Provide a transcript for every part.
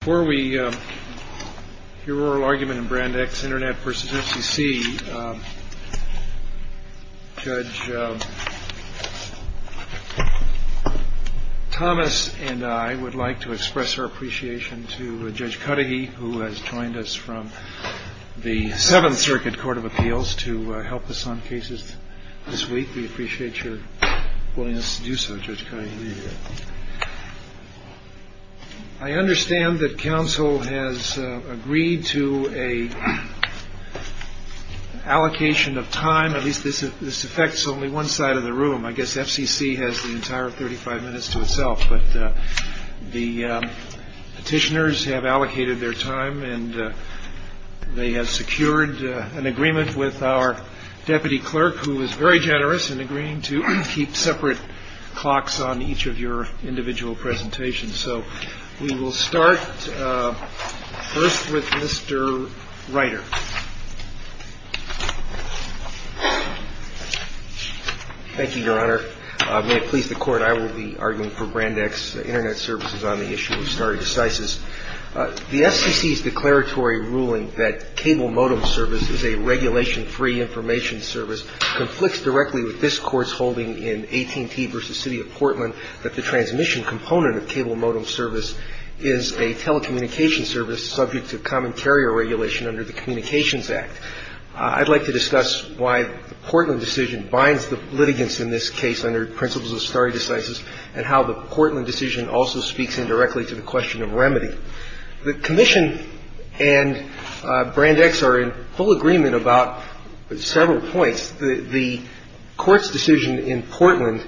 Before we hear oral argument in Brand X Internet v. FCC, Judge Thomas and I would like to express our appreciation to Judge Cudahy who has joined us from the Seventh Circuit Court of Appeals to help us on cases this week. We appreciate your willingness to do so, Judge Cudahy. I understand that counsel has agreed to an allocation of time, at least this affects only one side of the room. I guess FCC has the entire 35 minutes to itself, but the petitioners have allocated their time and they have secured an agreement with our deputy clerk who is very generous in agreeing to keep separate clocks on each of your individual presentations. So we will start first with Mr. Reiter. Thank you, Your Honor. May it please the Court, I will be arguing for Brand X Internet services on the issue of stardecisis. The FCC's declaratory ruling that cable modem service is a regulation-free information service conflicts directly with this Court's holding in AT&T v. City of Portland that the transmission component of cable modem service is a telecommunication service subject to commentarial regulation under the Communications Act. I would like to discuss why the Portland decision binds the litigants in this case under principles of stardecisis and how the Portland decision also speaks indirectly to the question of remedy. The Commission and Brand X are in full agreement about several points. The Court's decision in Portland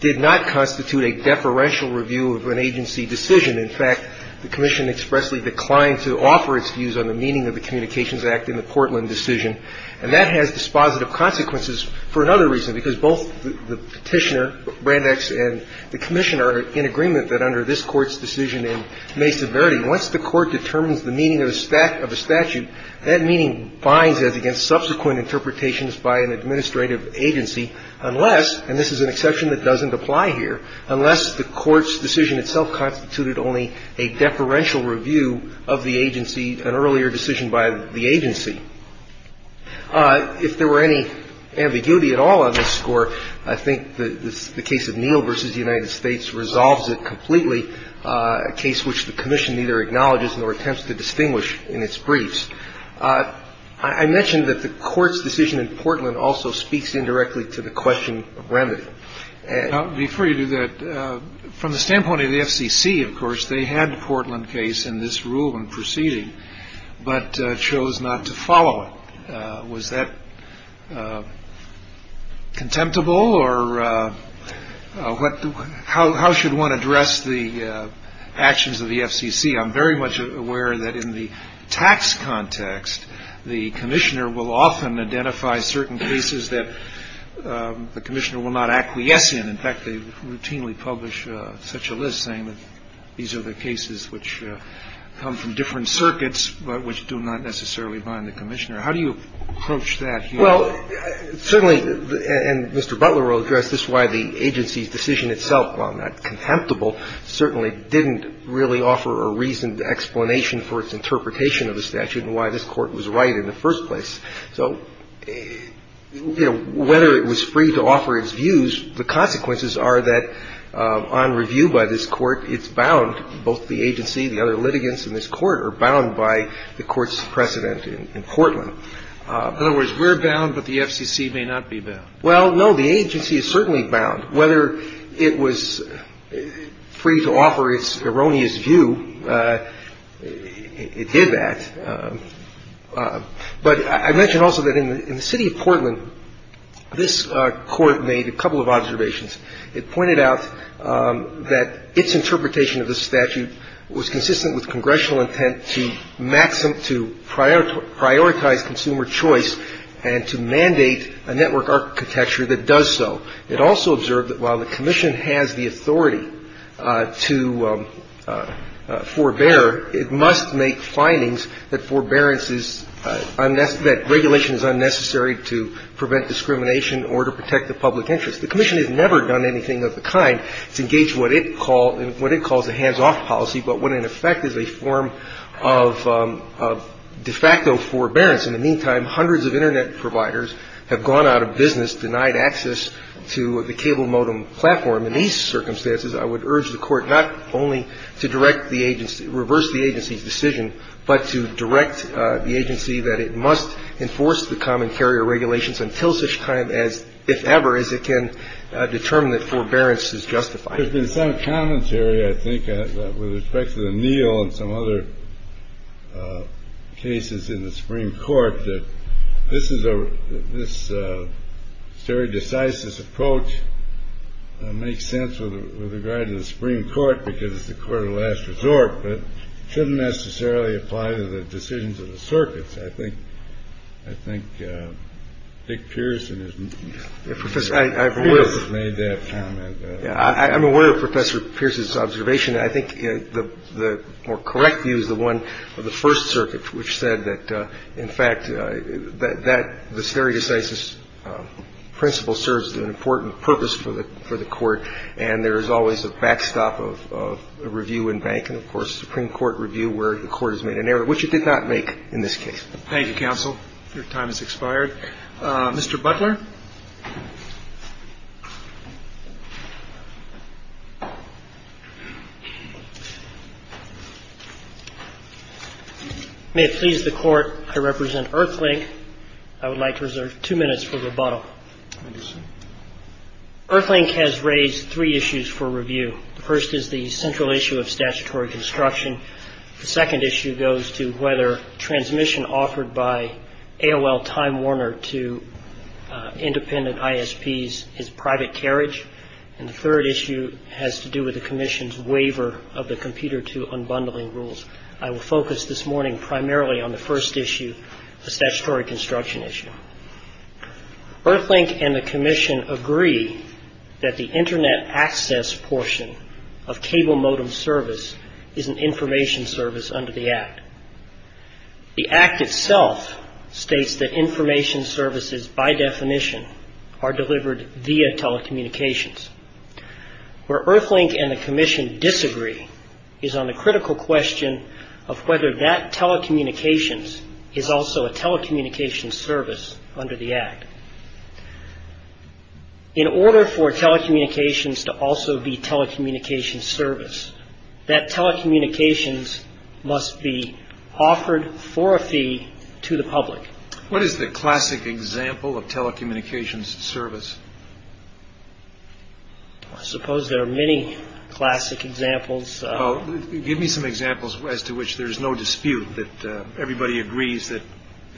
did not constitute a deferential review of an agency decision. In fact, the Commission expressly declined to offer its views on the meaning of the Communications Act in the Portland decision. And that has dispositive consequences for another reason, because both the petitioner, Brand X, and the Commissioner are in agreement that under this Court's decision in May's severity, unless the Court determines the meaning of a statute, that meaning binds it against subsequent interpretations by an administrative agency unless, and this is an exception that doesn't apply here, unless the Court's decision itself constituted only a deferential review of an earlier decision by the agency. If there were any ambiguity at all on this score, I think the case of Neal v. United States resolves it completely, a case which the Commission neither acknowledges nor attempts to distinguish in its briefs. I mentioned that the Court's decision in Portland also speaks indirectly to the question of remedy. I'll defer you to that. From the standpoint of the FCC, of course, they had the Portland case in this rule and proceeded, but chose not to follow it. Was that contemptible, or how should one address the actions of the FCC? I'm very much aware that in the tax context, the Commissioner will often identify certain cases that the Commissioner will not acquiesce in. In fact, they routinely publish such a list saying that these are the cases which come from different circuits but which do not necessarily bind the Commissioner. How do you approach that here? Well, certainly, and Mr. Butler will address this, why the agency's decision itself, while not contemptible, certainly didn't really offer a reasoned explanation for its interpretation of the statute and why this Court was right in the first place. So whether it was free to offer its views, the consequences are that on review by this Court, it's bound. Both the agency and the other litigants in this Court are bound by the Court's precedent in Portland. In other words, we're bound, but the FCC may not be bound. Well, no, the agency is certainly bound. Whether it was free to offer its erroneous view, it did that. But I mentioned also that in the city of Portland, this Court made a couple of observations. It pointed out that its interpretation of the statute was consistent with Congressional intent to prioritize consumer choice and to mandate a network architecture that does so. It also observed that while the Commission has the authority to forbear, it must make findings that regulation is unnecessary to prevent discrimination or to protect the public interest. The Commission has never done anything of the kind to engage in what it calls a hands-off policy, but what, in effect, is a form of de facto forbearance. In the meantime, hundreds of Internet providers have gone out of business, denied access to the cable modem platform. In these circumstances, I would urge the Court not only to reverse the agency's decision, but to direct the agency that it must enforce the commentary or regulations until such time as, if ever, as it can determine that forbearance is justified. There's been some commentary, I think, with respect to the Neal and some other cases in the Supreme Court, that this very decisive approach makes sense with regard to the Supreme Court because it's a court of last resort, but couldn't necessarily apply to the decisions of the circuits. I think Dick Pearson has made that comment. I'm aware of Professor Pearson's observation. I think the more correct view is the one of the First Circuit, which said that, in fact, the very decisive principle serves an important purpose for the Court, and there is always a backstop of review in bank and, of course, Supreme Court review where the Court has made an error, which it did not make in this case. Thank you, Counsel. Your time has expired. Thank you, Dick. Mr. Butler? May it please the Court, I represent Earthlink. I would like to reserve two minutes for rebuttal. Earthlink has raised three issues for review. The first is the central issue of statutory construction. The second issue goes to whether transmission offered by AOL Time Warner to independent ISPs is private carriage. And the third issue has to do with the Commission's waiver of the computer to unbundling rules. I will focus this morning primarily on the first issue, the statutory construction issue. Earthlink and the Commission agree that the Internet access portion of cable modem service is an information service under the Act. The Act itself states that information services, by definition, are delivered via telecommunications. Where Earthlink and the Commission disagree is on the critical question of whether that telecommunications is also a telecommunications service under the Act. In order for telecommunications to also be telecommunications service, that telecommunications must be offered for a fee to the public. What is the classic example of telecommunications service? I suppose there are many classic examples. Give me some examples as to which there's no dispute that everybody agrees that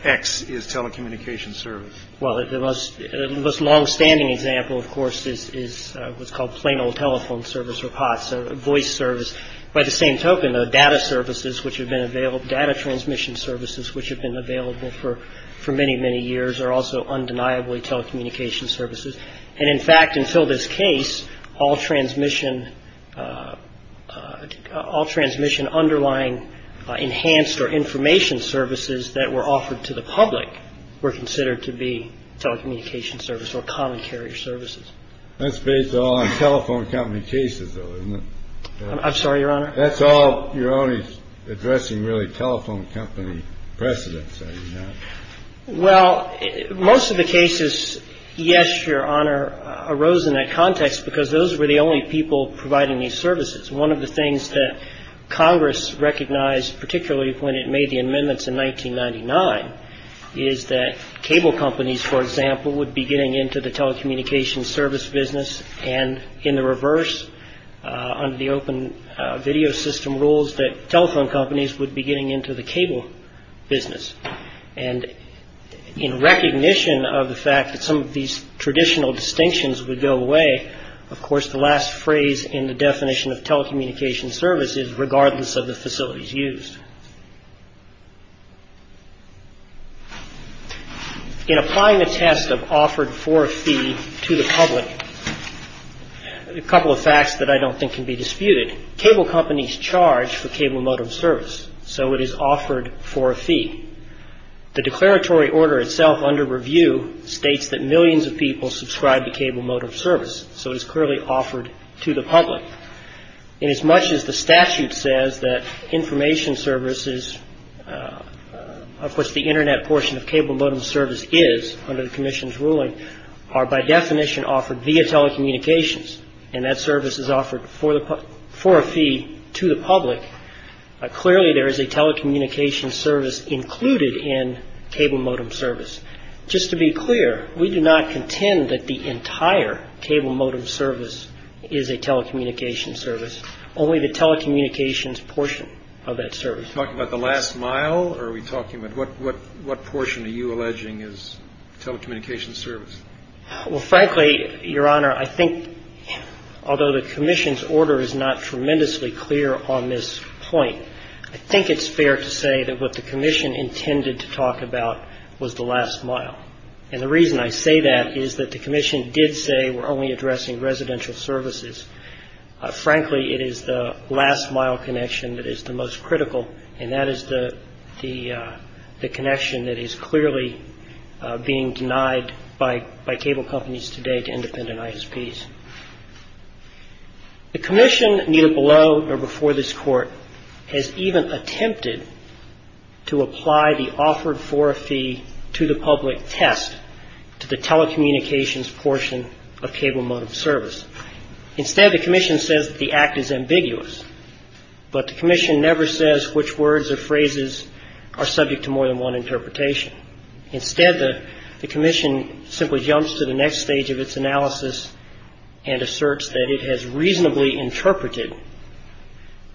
X is telecommunications service. Well, the most longstanding example, of course, is what's called plain old telephone service or POTS, voice service. By the same token, though, data services which have been available, data transmission services which have been available for many, many years are also undeniably telecommunications services. And in fact, until this case, all transmission underlying enhanced or information services that were offered to the public were considered to be telecommunications service or common carrier services. That's based on telephone company cases, though, isn't it? I'm sorry, Your Honor. That's all you're only addressing really telephone company precedents, are you not? Well, most of the cases, yes, Your Honor, arose in that context because those were the only people providing these services. One of the things that Congress recognized, particularly when it made the amendments in 1999, is that cable companies, for example, would be getting into the telecommunications service business, and in the reverse, under the open video system rules, that telephone companies would be getting into the cable business. And in recognition of the fact that some of these traditional distinctions would go away, of course, the last phrase in the definition of telecommunications service is regardless of the facilities used. In applying the test of offered for fee to the public, a couple of facts that I don't think can be disputed. One is that cable companies charge for cable modem service, so it is offered for a fee. The declaratory order itself under review states that millions of people subscribe to cable modem service, so it's clearly offered to the public. And as much as the statute says that information services, of course, the Internet portion of cable modem service is, under the commission's ruling, are by definition offered via telecommunications, and that service is offered for a fee to the public, clearly there is a telecommunications service included in cable modem service. Just to be clear, we do not contend that the entire cable modem service is a telecommunications service, only the telecommunications portion of that service. Are we talking about the last mile, or are we talking about what portion are you alleging is telecommunications service? Well, frankly, Your Honor, I think although the commission's order is not tremendously clear on this point, I think it's fair to say that what the commission intended to talk about was the last mile. And the reason I say that is that the commission did say we're only addressing residential services. Frankly, it is the last mile connection that is the most critical, and that is the connection that is clearly being denied by cable companies today to independent ISPs. The commission, neither below nor before this Court, has even attempted to apply the offered for a fee to the public test to the telecommunications portion of cable modem service. Instead, the commission says the act is ambiguous. But the commission never says which words or phrases are subject to more than one interpretation. Instead, the commission simply jumps to the next stage of its analysis and asserts that it has reasonably interpreted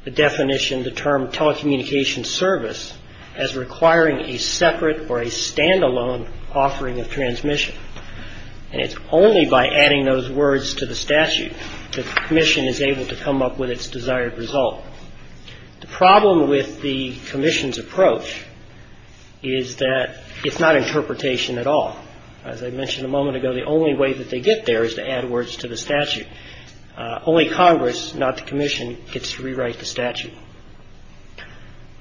the definition, the term telecommunications service, as requiring a separate or a standalone offering of transmission. And it's only by adding those words to the statute that the commission is able to come up with its desired result. The problem with the commission's approach is that it's not interpretation at all. As I mentioned a moment ago, the only way that they get there is to add words to the statute. Only Congress, not the commission, gets to rewrite the statute.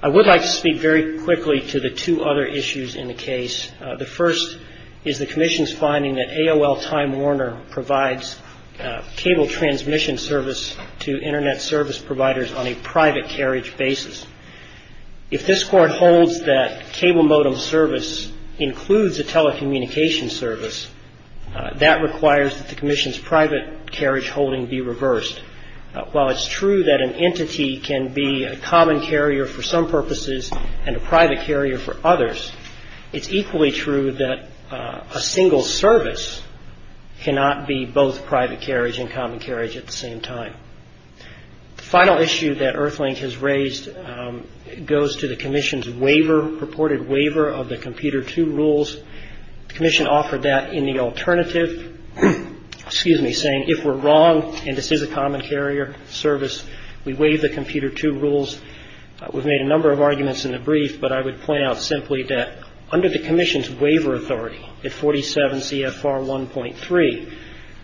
I would like to speak very quickly to the two other issues in the case. The first is the commission's finding that AOL Time Warner provides cable transmission service to Internet service providers on a private carriage basis. If this Court holds that cable modem service includes a telecommunications service, that requires that the commission's private carriage holding be reversed. While it's true that an entity can be a common carrier for some purposes and a private carrier for others, it's equally true that a single service cannot be both private carriage and common carriage at the same time. The final issue that EarthLink has raised goes to the commission's waiver, reported waiver, of the computer tube rules. The commission offered that in the alternative, saying if we're wrong and this is a common carrier service, we waive the computer tube rules. We've made a number of arguments in the brief, but I would point out simply that under the commission's waiver authority, at 47 CFR 1.3,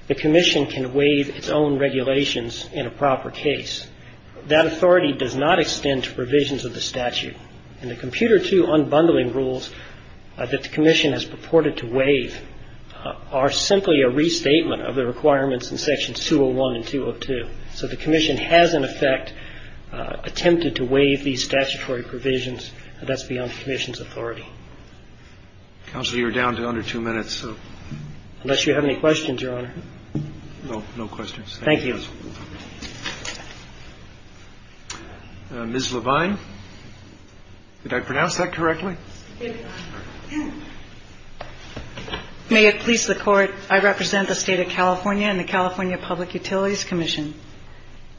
the commission can waive its own regulations in a proper case. That authority does not extend to provisions of the statute. And the computer tube unbundling rules that the commission has purported to waive are simply a restatement of the requirements in sections 201 and 202. So the commission has, in effect, attempted to waive these statutory provisions, but that's beyond the commission's authority. Counsel, you're down to under two minutes. Unless you have any questions, Your Honor. No, no questions. Thank you. Ms. Levine? Did I pronounce that correctly? Yes, Your Honor. May it please the court, I represent the state of California and the California Public Utilities Commission.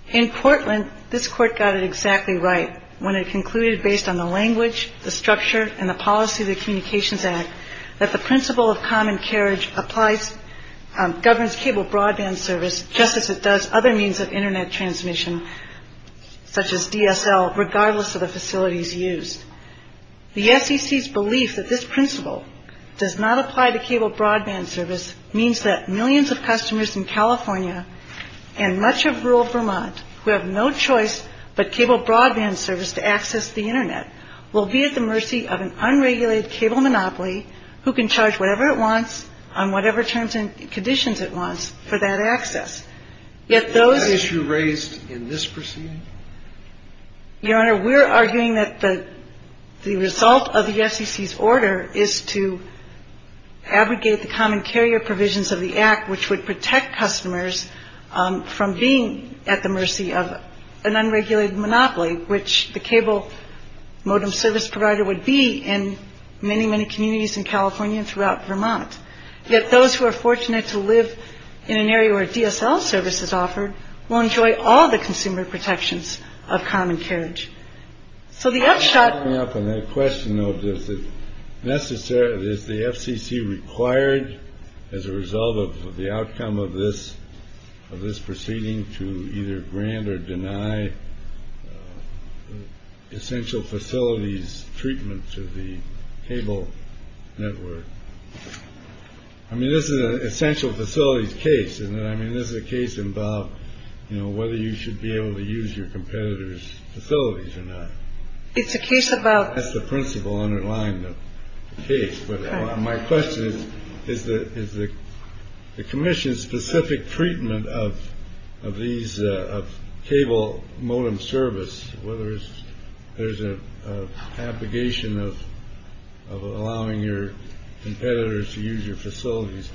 In Portland, this court got it exactly right when it concluded based on the language, the structure, and the policy of the Communications Act that the principle of common carriage applies, governs cable broadband service just as it does other means of Internet transmission, such as DSL, regardless of the facilities used. The FCC's belief that this principle does not apply to cable broadband service means that millions of customers in California and much of rural Vermont who have no choice but cable broadband service to access the Internet will be at the mercy of an unregulated cable monopoly who can charge whatever it wants on whatever terms and conditions it wants for that access. Is that issue raised in this proceeding? Your Honor, we're arguing that the result of the FCC's order is to abrogate the common carrier provisions of the Act, which would protect customers from being at the mercy of an unregulated monopoly, which the cable modem service provider would be in many, many communities in California and throughout Vermont. Yet those who are fortunate to live in an area where DSL service is offered will enjoy all the consumer protections of common carriage. So the upshot- I'm coming up on that question of is the FCC required as a result of the outcome of this proceeding to either grant or deny essential facilities treatment to the cable network? I mean, this is an essential facilities case, and I mean, this is a case about whether you should be able to use your competitors' facilities or not. It's a case about- That's the principle underlying the case. My question is, is the commission's specific treatment of these cable modem service, whether there's an abrogation of allowing your competitors to use your facilities,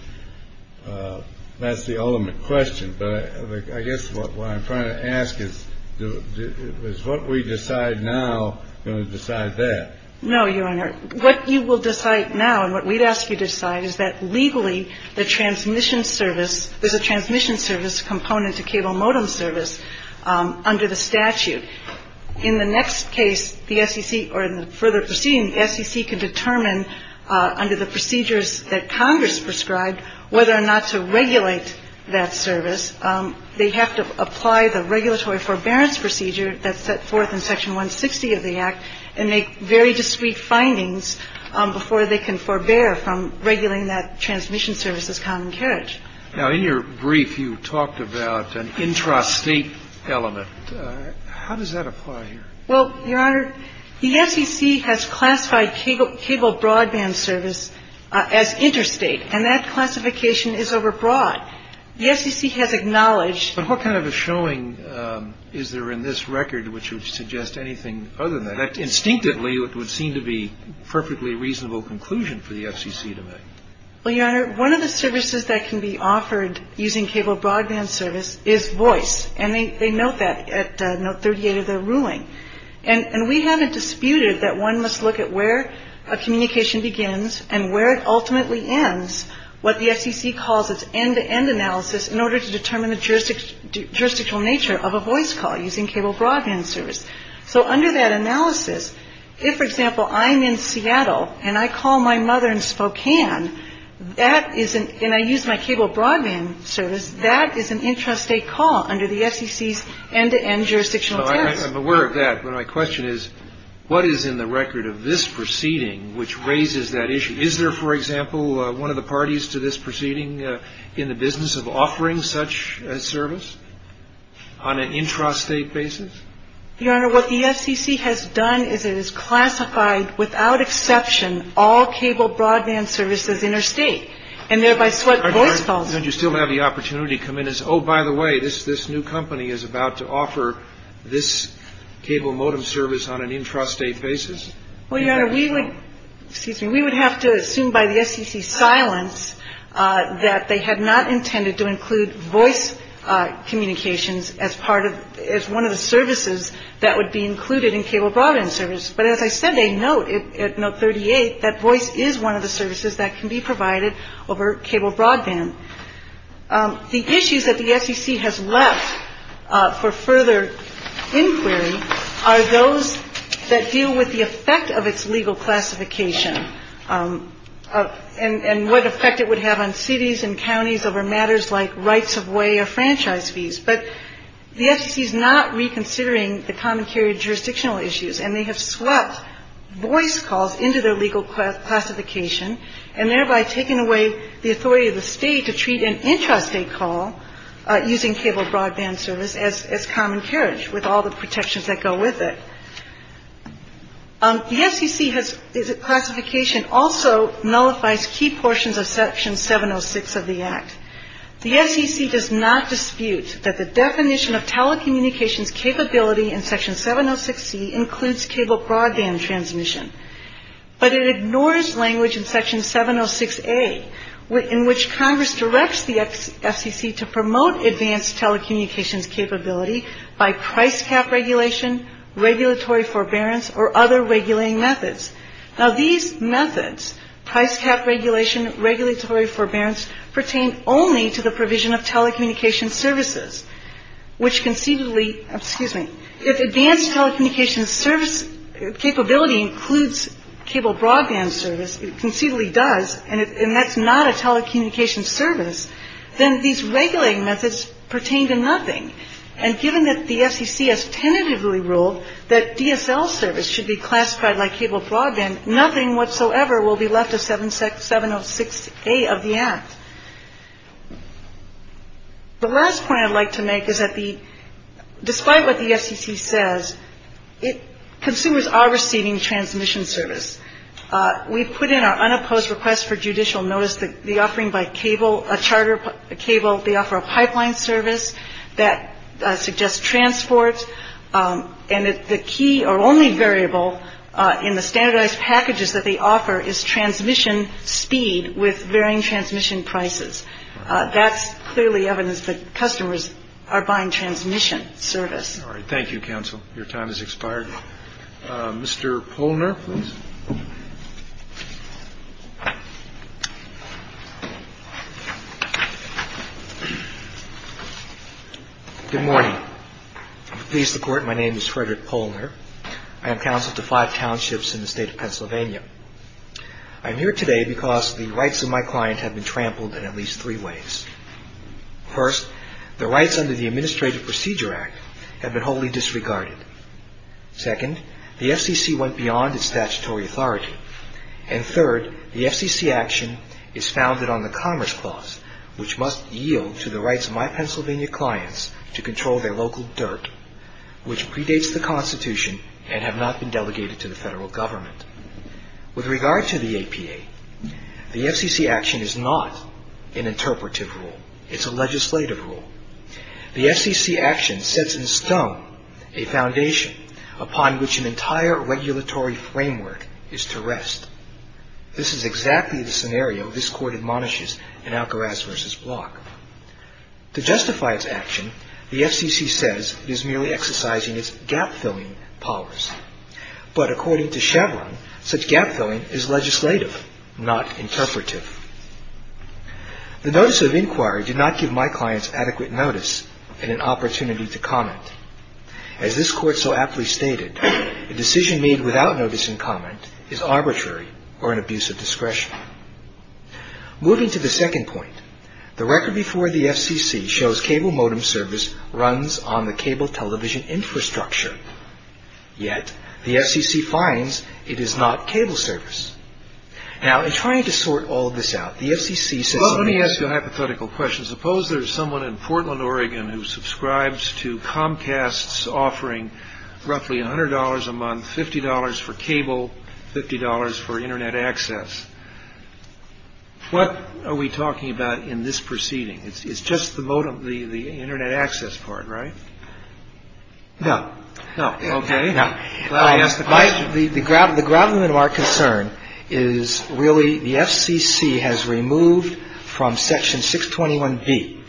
that's the ultimate question. But I guess what I'm trying to ask is, is what we decide now going to decide that? No, Your Honor. What you will decide now and what we'd ask you to decide is that legally the transmission service- there's a transmission service component to cable modem service under the statute. In the next case, the FCC- or in the further proceeding, the FCC can determine under the procedures that Congress prescribed whether or not to regulate that service. They have to apply the regulatory forbearance procedure that's set forth in Section 160 of the Act and make very discreet findings before they can forbear from regulating that transmission service with common carriage. Now, in your brief, you talked about an intrastate element. How does that apply here? Well, Your Honor, the FCC has classified cable broadband service as interstate, and that classification is overbroad. The FCC has acknowledged- So what kind of a showing is there in this record which would suggest anything other than that? Instinctively, it would seem to be a perfectly reasonable conclusion for the FCC to make. Well, Your Honor, one of the services that can be offered using cable broadband service is voice, and they note that at Note 38 of their ruling. And we haven't disputed that one must look at where a communication begins and where it ultimately ends, what the FCC calls its end-to-end analysis, in order to determine the jurisdictional nature of a voice call using cable broadband service. So under that analysis, if, for example, I'm in Seattle and I call my mother in Spokane, and I use my cable broadband service, that is an intrastate call under the FCC's end-to-end jurisdictional act. I'm aware of that, but my question is, what is in the record of this proceeding which raises that issue? Is there, for example, one of the parties to this proceeding in the business of offering such a service on an intrastate basis? Your Honor, what the FCC has done is it has classified, without exception, all cable broadband services interstate, Don't you still have the opportunity to come in and say, oh, by the way, this new company is about to offer this cable modem service on an intrastate basis? Well, Your Honor, we would have to assume by the FCC's silence that they had not intended to include voice communications as one of the services that would be included in cable broadband service. But as I said, they note at Note 38 that voice is one of the services that can be provided over cable broadband. The issues that the FCC has left for further inquiry are those that deal with the effect of its legal classification and what effect it would have on cities and counties over matters like rights of way or franchise fees. But the FCC is not reconsidering the common carrier jurisdictional issues and they have swept voice calls into their legal classification and thereby taken away the authority of the state to treat an intrastate call using cable broadband service as common carrier with all the protections that go with it. The FCC's classification also nullifies key portions of Section 706 of the Act. The FCC does not dispute that the definition of telecommunications capability in Section 706C includes cable broadband transmission, but it ignores language in Section 706A in which Congress directs the FCC to promote advanced telecommunications capability by price cap regulation, regulatory forbearance, or other regulating methods. Now these methods, price cap regulation, regulatory forbearance, pertain only to the provision of telecommunications services, which conceivably, excuse me, if advanced telecommunications service capability includes cable broadband service, it conceivably does, and that's not a telecommunications service, then these regulating methods pertain to nothing. And given that the FCC has tentatively ruled that DSL service should be classified by cable broadband, nothing whatsoever will be left of 706A of the Act. The last point I'd like to make is that despite what the FCC says, consumers are receiving transmission service. We've put in our unopposed request for judicial notice that the offering by cable, they offer a pipeline service that suggests transport, and the key or only variable in the standardized packages that they offer is transmission speed with varying transmission prices. That's clearly evidence that customers are buying transmission service. All right. Thank you, counsel. Your time has expired. Mr. Polner, please. Good morning. I'm pleased to report my name is Frederick Polner. I'm counsel to five townships in the state of Pennsylvania. I'm here today because the rights of my client have been trampled in at least three ways. First, the rights under the Administrative Procedure Act have been wholly disregarded. Second, the FCC went beyond its statutory authority. And third, the FCC action is founded on the Commerce Clause, which must yield to the rights of my Pennsylvania clients to control their local dirt, which predates the Constitution and have not been delegated to the federal government. With regard to the APA, the FCC action is not an interpretive rule. It's a legislative rule. The FCC action sets in stone a foundation upon which an entire regulatory framework is to rest. This is exactly the scenario this court admonishes in Algaraz v. Block. To justify its action, the FCC says it is merely exercising its gap-filling policy. But according to Shavlin, such gap-filling is legislative, not interpretive. The notice of inquiry did not give my clients adequate notice and an opportunity to comment. As this court so aptly stated, a decision made without notice and comment is arbitrary or an abuse of discretion. Moving to the second point, the record before the FCC shows cable modem service runs on the cable television infrastructure. Yet, the FCC finds it is not cable service. Now, in trying to sort all this out, the FCC says... Well, let me ask you a hypothetical question. Suppose there is someone in Portland, Oregon who subscribes to Comcast's offering roughly $100 a month, $50 for cable, $50 for Internet access. What are we talking about in this proceeding? It's just the Internet access part, right? No. Okay. No. The grounding of our concern is really the FCC has removed from Section 621B,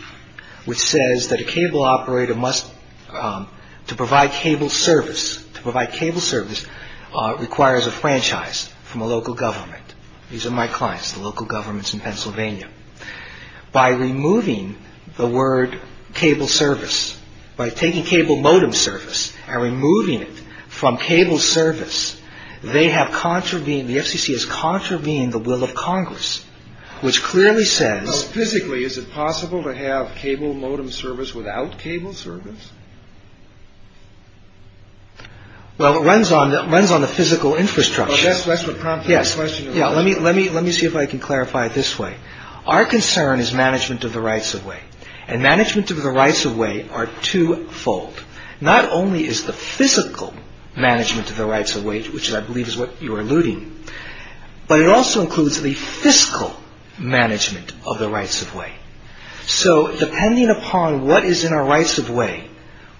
which says that a cable operator must... to provide cable service requires a franchise from a local government. These are my clients, the local governments in Pennsylvania. By removing the word cable service, by taking cable modem service and removing it from cable service, they have contravened, the FCC has contravened the will of Congress, which clearly says... Physically, is it possible to have cable modem service without cable service? Well, it runs on the physical infrastructure. That's what prompted the question. Let me see if I can clarify it this way. Our concern is management of the rights-of-way, and management of the rights-of-way are two-fold. Not only is the physical management of the rights-of-way, which I believe is what you are alluding to, but it also includes the fiscal management of the rights-of-way. So, depending upon what is in our rights-of-way,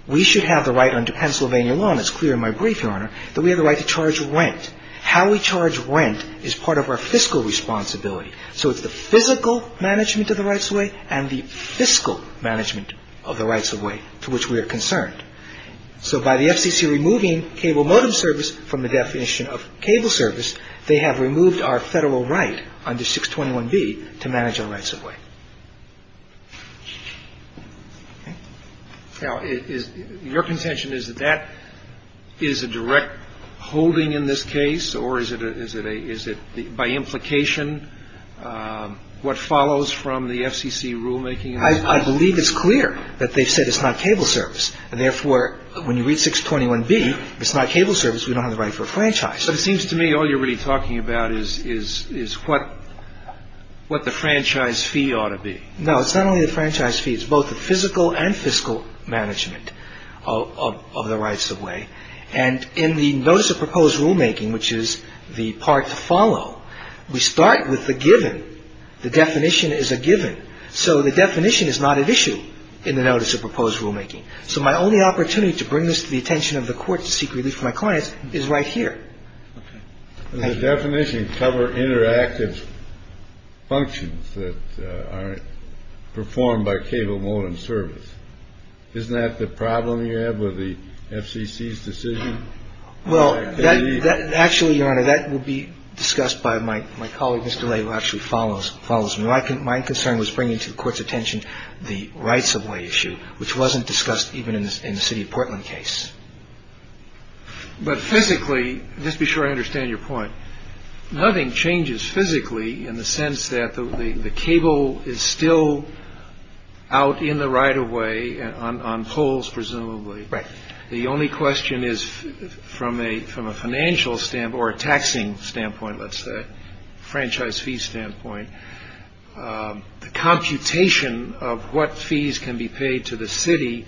we should have the right under Pennsylvania law, and it's clear in my brief, Your Honor, that we have the right to charge rent. How we charge rent is part of our fiscal responsibility. So, it's the physical management of the rights-of-way and the fiscal management of the rights-of-way to which we are concerned. So, by the FCC removing cable modem service from the definition of cable service, they have removed our federal right under 621B to manage our rights-of-way. Now, your contention is that that is a direct holding in this case, or is it by implication what follows from the FCC rulemaking? I believe it's clear that they said it's not cable service. Therefore, when you read 621B, it's not cable service. We don't have the money for a franchise. It seems to me all you're really talking about is what the franchise fee ought to be. No, it's not only the franchise fee. It's both the physical and fiscal management of the rights-of-way. And in the Notice of Proposed Rulemaking, which is the part to follow, we start with the given. The definition is a given. So, the definition is not an issue in the Notice of Proposed Rulemaking. So, my only opportunity to bring this to the attention of the court to seek relief from my client is right here. The definition covers interactive functions that are performed by cable modem service. Isn't that the problem you have with the FCC's decision? Well, actually, Your Honor, that would be discussed by my colleague, Mr. Lay, who actually follows me. My concern was bringing to the court's attention the rights-of-way issue, which wasn't discussed even in the City of Portland case. But physically, just to be sure I understand your point, nothing changes physically in the sense that the cable is still out in the right-of-way on poles, presumably. Right. The only question is from a financial standpoint or a taxing standpoint, let's say, franchise fee standpoint, the computation of what fees can be paid to the city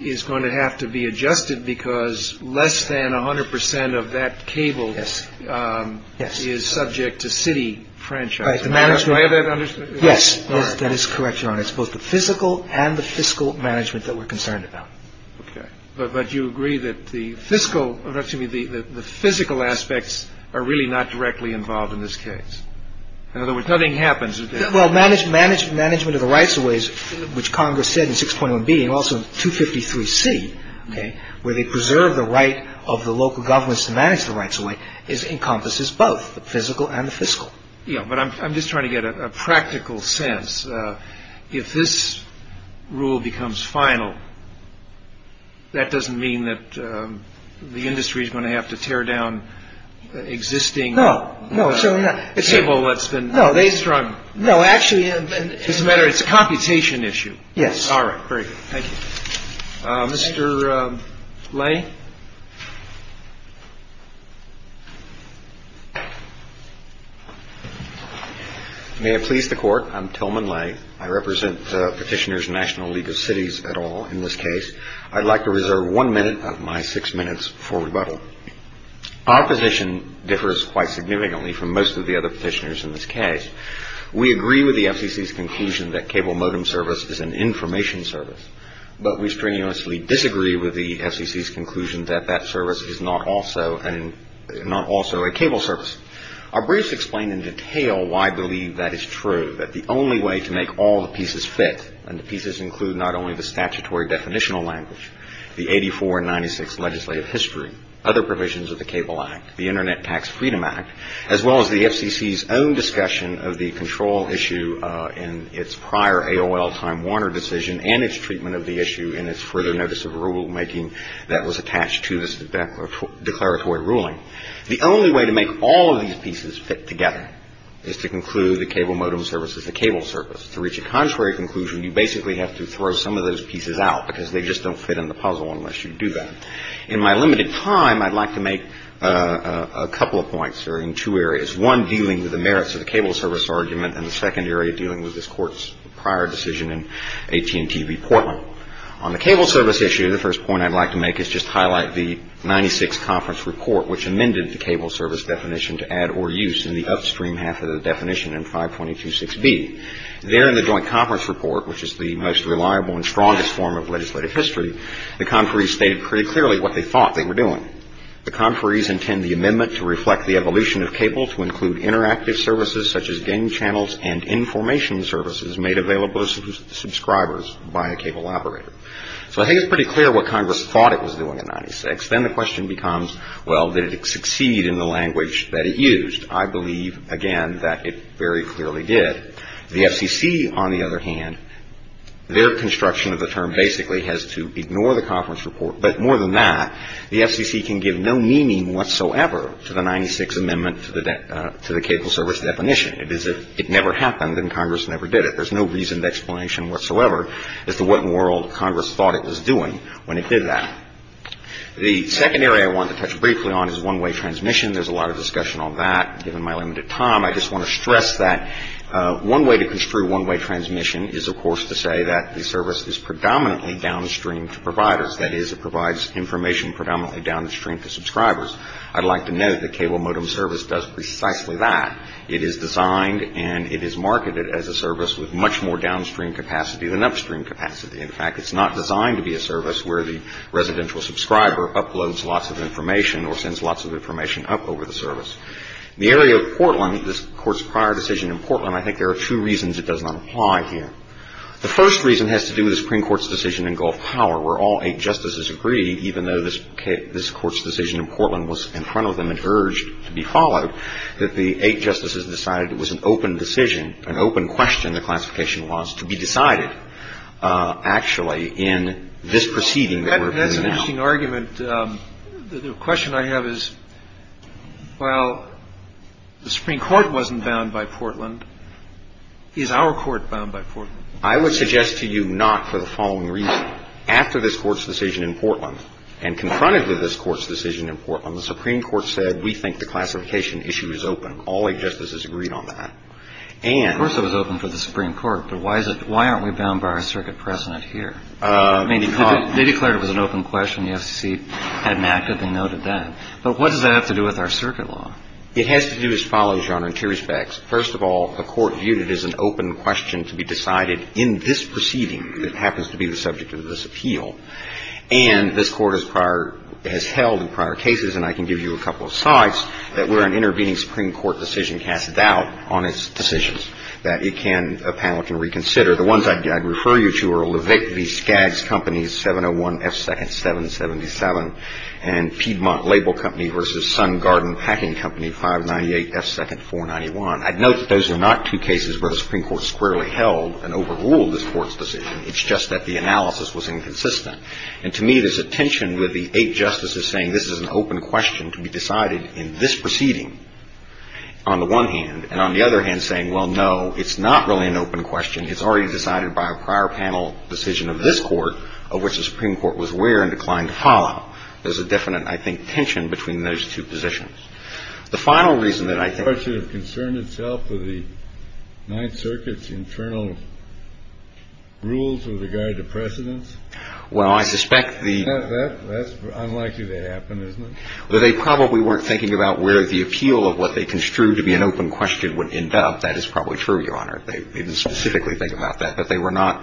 is going to have to be adjusted because less than 100% of that cable is subject to city franchise. Am I of that understanding? Yes. That is correct, Your Honor. It's both the physical and the fiscal management that we're concerned about. Okay. But you agree that the physical aspects are really not directly involved in this case. In other words, nothing happens. Well, management of the rights-of-ways, which Congress said in 6.1b and also 253c, where they preserve the right of the local governments to manage the rights-of-ways, encompasses both the physical and the fiscal. Yeah, but I'm just trying to get a practical sense. If this rule becomes final, that doesn't mean that the industry is going to have to tear down existing cable that's been raised from… No, actually… It doesn't matter. It's a computation issue. Yes. All right. Great. Thank you. Mr. Lay? May it please the Court, I'm Tillman Lay. I represent Petitioners National League of Cities et al. in this case. I'd like to reserve one minute of my six minutes for rebuttal. Our position differs quite significantly from most of the other petitioners in this case. We agree with the SEC's conclusion that cable modem service is an information service, but we strenuously disagree with the SEC's conclusion that that service is not also a cable service. Our briefs explain in detail why I believe that is true, that the only way to make all the pieces fit, and the pieces include not only the statutory definitional language, the 84 and 96 legislative history, other provisions of the Cable Act, the Internet Tax Freedom Act, as well as the SEC's own discussion of the control issue in its prior AOL-Simon Warner decision and its treatment of the issue in its further notice of rulemaking that was attached to this declaratory ruling. The only way to make all of these pieces fit together is to conclude that cable modem service is a cable service. To reach a contrary conclusion, you basically have to throw some of those pieces out because they just don't fit in the puzzle unless you do that. In my limited time, I'd like to make a couple of points here in two areas, one dealing with the merits of the cable service argument and the second area dealing with this Court's prior decision in AT&T v. Portland. On the cable service issue, the first point I'd like to make is just highlight the 96 conference report which amended the cable service definition to add or use in the upstream half of the definition in 522.6b. There in the joint conference report, which is the most reliable and strongest form of legislative history, the conferees stated pretty clearly what they thought they were doing. The conferees intend the amendment to reflect the evolution of cable to include interactive services such as game channels and information services made available to subscribers by a cable operator. So I think it's pretty clear what Congress thought it was doing in 96. Then the question becomes, well, did it succeed in the language that it used? I believe, again, that it very clearly did. The FCC, on the other hand, their construction of the term basically has to ignore the conference report. But more than that, the FCC can give no meaning whatsoever to the 96 amendment to the cable service definition. It never happened and Congress never did it. There's no reasoned explanation whatsoever as to what in the world Congress thought it was doing when it did that. The second area I wanted to touch briefly on is one-way transmission. There's a lot of discussion on that. Given my limited time, I just want to stress that one way to construe one-way transmission is, of course, to say that the service is predominantly downstream to providers. That is, it provides information predominantly downstream to subscribers. I'd like to note that cable modem service does precisely that. It is designed and it is marketed as a service with much more downstream capacity than upstream capacity. In fact, it's not designed to be a service where the residential subscriber uploads lots of information or sends lots of information up over the service. The area of Portland, this Court's prior decision in Portland, I think there are two reasons it doesn't apply here. The first reason has to do with the Supreme Court's decision in Gulf Power where all eight justices agreed, even though this Court's decision in Portland was in front of them and urged to be followed, that the eight justices decided it was an open decision, an open question, the classification was, to be decided actually in this proceeding that we're doing now. The question I have is, while the Supreme Court wasn't bound by Portland, is our court bound by Portland? I would suggest to you not for the following reason. After this Court's decision in Portland and confronted with this Court's decision in Portland, the Supreme Court said, we think the classification issue is open. All eight justices agreed on that. Of course it was open for the Supreme Court, but why aren't we bound by our circuit precedent here? They declared it was an open question. The SEC had an act that they noted then. But what does that have to do with our circuit law? It has to do as follows, Your Honor, in two respects. First of all, the Court viewed it as an open question to be decided in this proceeding that happens to be the subject of this appeal. And this Court has held in prior cases, and I can give you a couple of sites, that were an intervening Supreme Court decision cast doubt on its decisions that a panel can reconsider. The ones I'd refer you to are Levick v. Skaggs Company, 701 F. 2nd, 777, and Piedmont Label Company v. Sun Garden Packing Company, 598 F. 2nd, 491. I'd note that those are not two cases where the Supreme Court squarely held and overruled this Court's decision. It's just that the analysis was inconsistent. And to me there's a tension with the eight justices saying this is an open question to be decided in this proceeding on the one hand, and on the other hand saying, well, no, it's not really an open question. It's already decided by a prior panel decision of this Court, of which the Supreme Court was aware and declined to follow. There's a definite, I think, tension between those two positions. The final reason that I think... The Court should have concerned itself with the Ninth Circuit's internal rules with regard to precedence? Well, I suspect the... That's unlikely to happen, isn't it? Well, they probably weren't thinking about where the appeal of what they construed to be an open question would end up. That is probably true, Your Honor. They didn't specifically think about that. But they were not...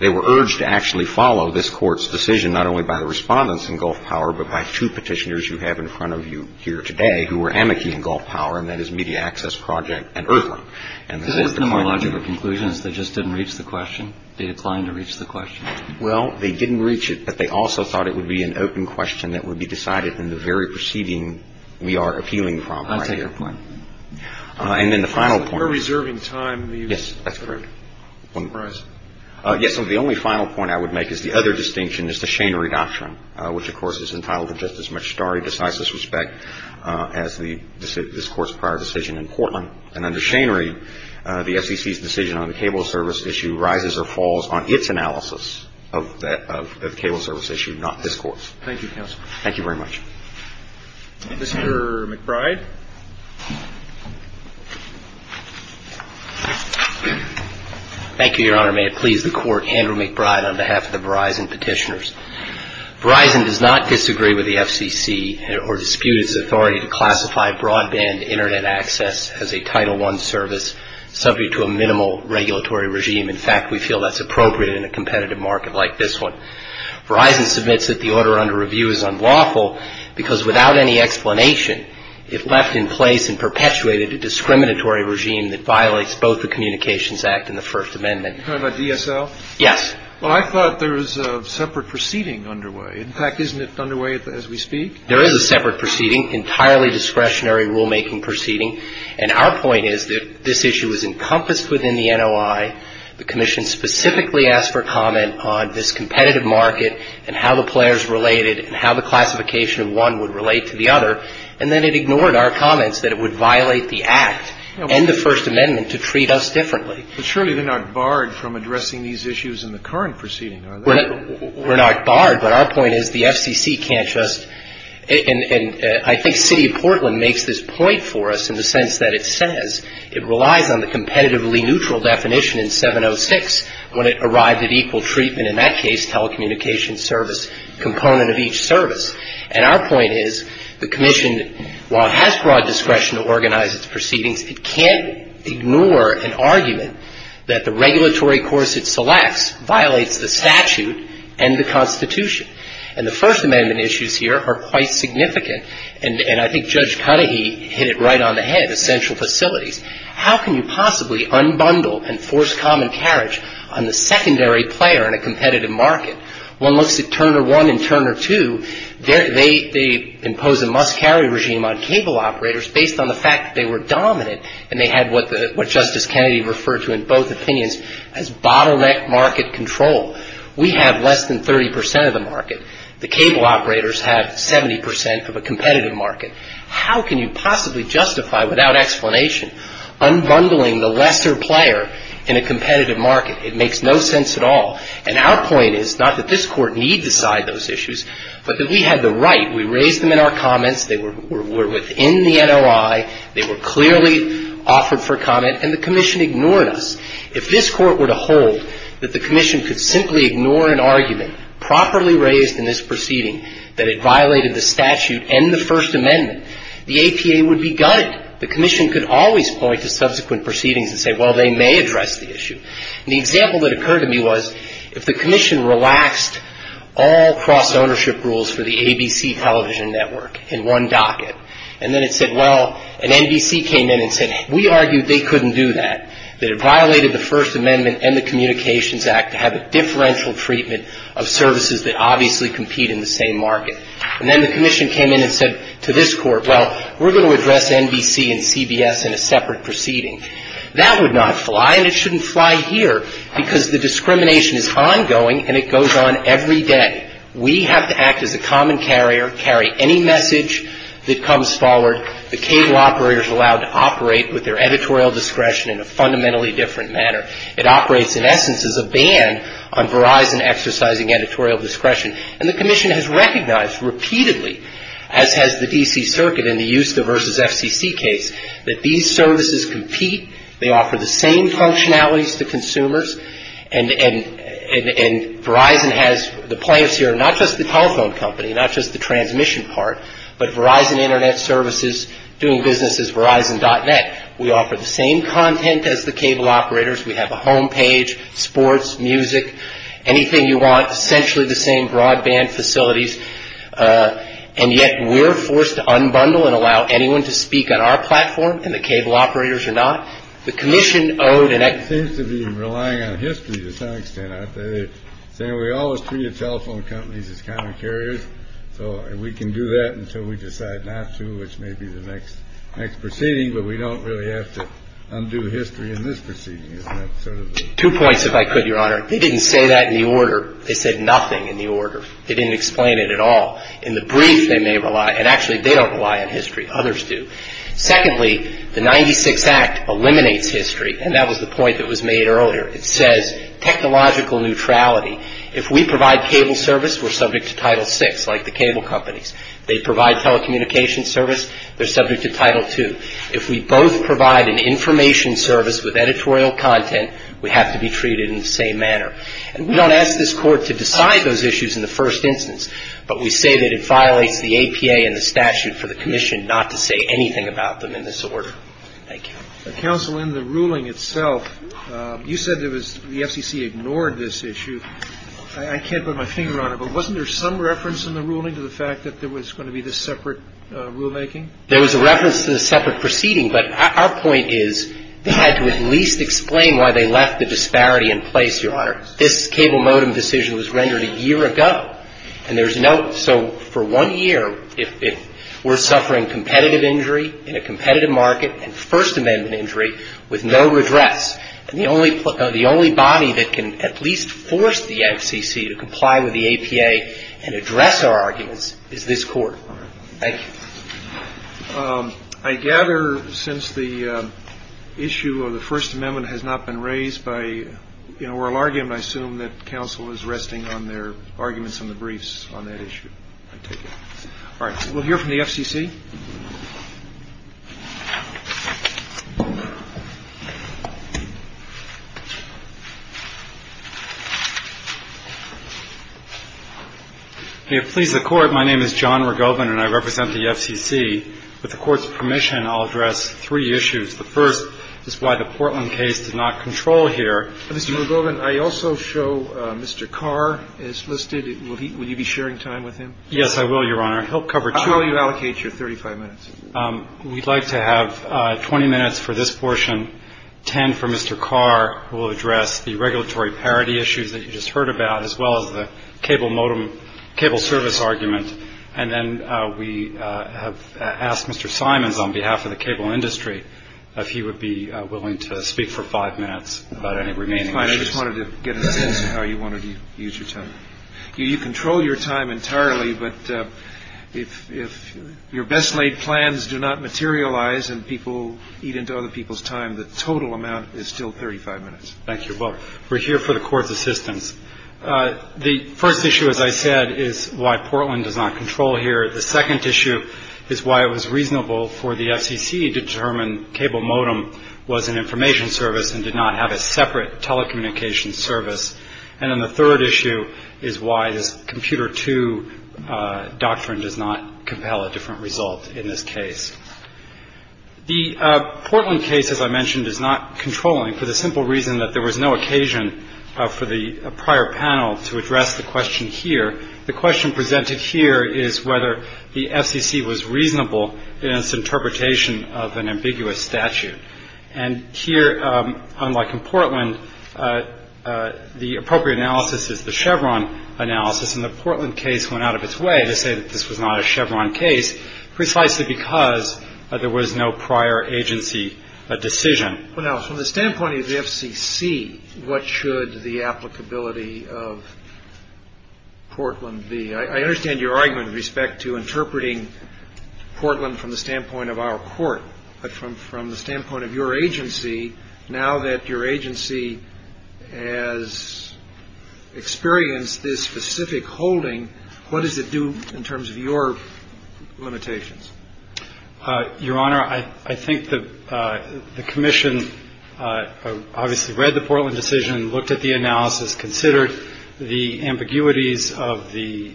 They were urged to actually follow this Court's decision, not only by the Respondents in Gulf Power, but by two Petitioners you have in front of you here today who were amici in Gulf Power, and that is Media Access Project and IRPA. And they declined to make a conclusion. They just didn't reach the question? They declined to reach the question? Well, they didn't reach it, but they also thought it would be an open question that would be decided in the very proceeding we are appealing from right here. I take your point. And then the final point... We're reserving time. Yes, that's correct. Yes, and the only final point I would make is the other distinction is the Schanery Doctrine, which, of course, is entitled to just as much starry, decisive respect as this Court's prior decision in Portland. And under Schanery, the SEC's decision on the cable service issue rises or falls on its analysis of the cable service issue, not this Court's. Thank you, counsel. Thank you very much. Mr. McBride? Thank you, Your Honor. May it please the Court, Andrew McBride on behalf of the Verizon Petitioners. Verizon does not disagree with the FCC or dispute its authority to classify broadband Internet access as a Title I service subject to a minimal regulatory regime. In fact, we feel that's appropriate in a competitive market like this one. Verizon submits that the order under review is unlawful because, without any explanation, it left in place and perpetuated a discriminatory regime that violates both the Communications Act and the First Amendment. Are you talking about DSL? Yes. Well, I thought there was a separate proceeding underway. In fact, isn't it underway as we speak? There is a separate proceeding, entirely discretionary rulemaking proceeding, and our point is that this issue is encompassed within the NOI. The Commission specifically asked for comment on this competitive market and how the players related and how the classification of one would relate to the other, and then it ignored our comments that it would violate the Act and the First Amendment to treat us differently. But surely they're not barred from addressing these issues in the current proceeding, are they? We're not barred, but our point is the FCC can't just – and I think the City of Portland makes this point for us in the sense that it says It relies on the competitively neutral definition in 706 when it arrives at equal treatment, in that case telecommunications service, component of each service. And our point is the Commission, while it has broad discretion to organize its proceedings, it can't ignore an argument that the regulatory course it selects violates the statute and the Constitution. And the First Amendment issues here are quite significant, and I think Judge Cudahy hit it right on the head, essential facilities. How can you possibly unbundle and force common carriage on the secondary player in a competitive market? One looks at Turner 1 and Turner 2. They impose a must-carry regime on cable operators based on the fact that they were dominant and they had what Justice Kennedy referred to in both opinions as bottleneck market control. We have less than 30 percent of the market. The cable operators have 70 percent of a competitive market. How can you possibly justify, without explanation, unbundling the lesser player in a competitive market? It makes no sense at all. And our point is not that this Court need decide those issues, but that we had them right. We raised them in our comments. They were within the NOI. They were clearly offered for comment, and the Commission ignored us. If this Court were to hold that the Commission could simply ignore an argument properly raised in this proceeding that it violated the statute and the First Amendment, the APA would be gutted. The Commission could always point to subsequent proceedings and say, well, they may address the issue. And the example that occurred to me was if the Commission relaxed all cross-ownership rules for the ABC television network in one docket, and then it said, well, and NBC came in and said, we argued they couldn't do that, that it violated the First Amendment and the Communications Act to have a differential treatment of services that obviously compete in the same market. And then the Commission came in and said to this Court, well, we're going to address NBC and CBS in a separate proceeding. That would not fly, and it shouldn't fly here, because the discrimination is ongoing, and it goes on every day. We have to act as a common carrier, carry any message that comes forward. The cable operators are allowed to operate with their editorial discretion in a fundamentally different manner. It operates, in essence, as a ban on Verizon exercising editorial discretion. And the Commission has recognized repeatedly, as has the D.C. Circuit in the USTA versus FTC case, that these services compete, they offer the same functionalities to consumers, and Verizon has the plans to not just the telephone company, not just the transmission part, but Verizon Internet Services doing business as Verizon.net. We offer the same content as the cable operators. We have a home page, sports, music, anything you want, essentially the same broadband facilities. And yet we're forced to unbundle and allow anyone to speak on our platform, and the cable operators are not. The Commission owned, and that seems to be relying on history to some extent. We all see the telephone companies as common carriers, and we can do that until we decide not to, which may be the next proceeding, but we don't really have to undo history in this proceeding. Two points, if I could, Your Honor. It didn't say that in the order. It said nothing in the order. It didn't explain it at all. In the brief, they may rely, and actually they don't rely on history. Others do. Secondly, the 96th Act eliminates history, and that was the point that was made earlier. It says technological neutrality. If we provide cable service, we're subject to Title VI, like the cable companies. If they provide telecommunications service, they're subject to Title II. If we both provide an information service with editorial content, we have to be treated in the same manner. And we don't ask this Court to decide those issues in the first instance, but we say that it violates the APA and the statute for the Commission not to say anything about them in this order. Thank you. Counsel, in the ruling itself, you said there was the SEC ignored this issue. I can't put my finger on it, but wasn't there some reference in the ruling to the fact that there was going to be this separate rulemaking? There was a reference to the separate proceeding, but our point is they had to at least explain why they left the disparity in place, Your Honor. This cable modem decision was rendered a year ago, and there's no – so for one year, if we're suffering competitive injury in a competitive market, and First Amendment injury with no redress, the only body that can at least force the FCC to comply with the APA and address our arguments is this Court. Thank you. I gather since the issue of the First Amendment has not been raised by an oral argument, I assume that counsel is resting on their arguments in the briefs on that issue. All right. We'll hear from the FCC. If it pleases the Court, my name is John Rogobin, and I represent the FCC. With the Court's permission, I'll address three issues. The first is why the Portland case did not control here. Mr. Rogobin, I also show Mr. Carr is listed. Will you be sharing time with him? Yes, I will, Your Honor. He'll cover two minutes. How will you allocate your 35 minutes? We'd like to have 20 minutes for this portion, 10 for Mr. Carr, who will address the regulatory parity issues that you just heard about, as well as the cable service argument. And then we have asked Mr. Simons, on behalf of the cable industry, if he would be willing to speak for five minutes about any remaining issues. That's fine. I just wanted to get an idea of how you wanted to use your time. You control your time entirely, but if your best-made plans do not materialize and people eat into other people's time, the total amount is still 35 minutes. Thank you. We'll hear from the Court's assistance. The first issue, as I said, is why Portland does not control here. The second issue is why it was reasonable for the FCC to determine cable modem was an information service and did not have a separate telecommunications service. And then the third issue is why the Computer II doctrine does not compel a different result in this case. The Portland case, as I mentioned, is not controlling for the simple reason that there was no occasion for the prior panel to address the question here. The question presented here is whether the FCC was reasonable in its interpretation of an ambiguous statute. And here, unlike in Portland, the appropriate analysis is the Chevron analysis, and the Portland case went out of its way to say that this was not a Chevron case, precisely because there was no prior agency decision. Well, now, from the standpoint of the FCC, what should the applicability of Portland be? I understand your argument with respect to interpreting Portland from the standpoint of our Court, but from the standpoint of your agency, now that your agency has experienced this specific holding, what does it do in terms of your limitations? Your Honor, I think the Commission obviously read the Portland decision, looked at the analysis, considered the ambiguities of the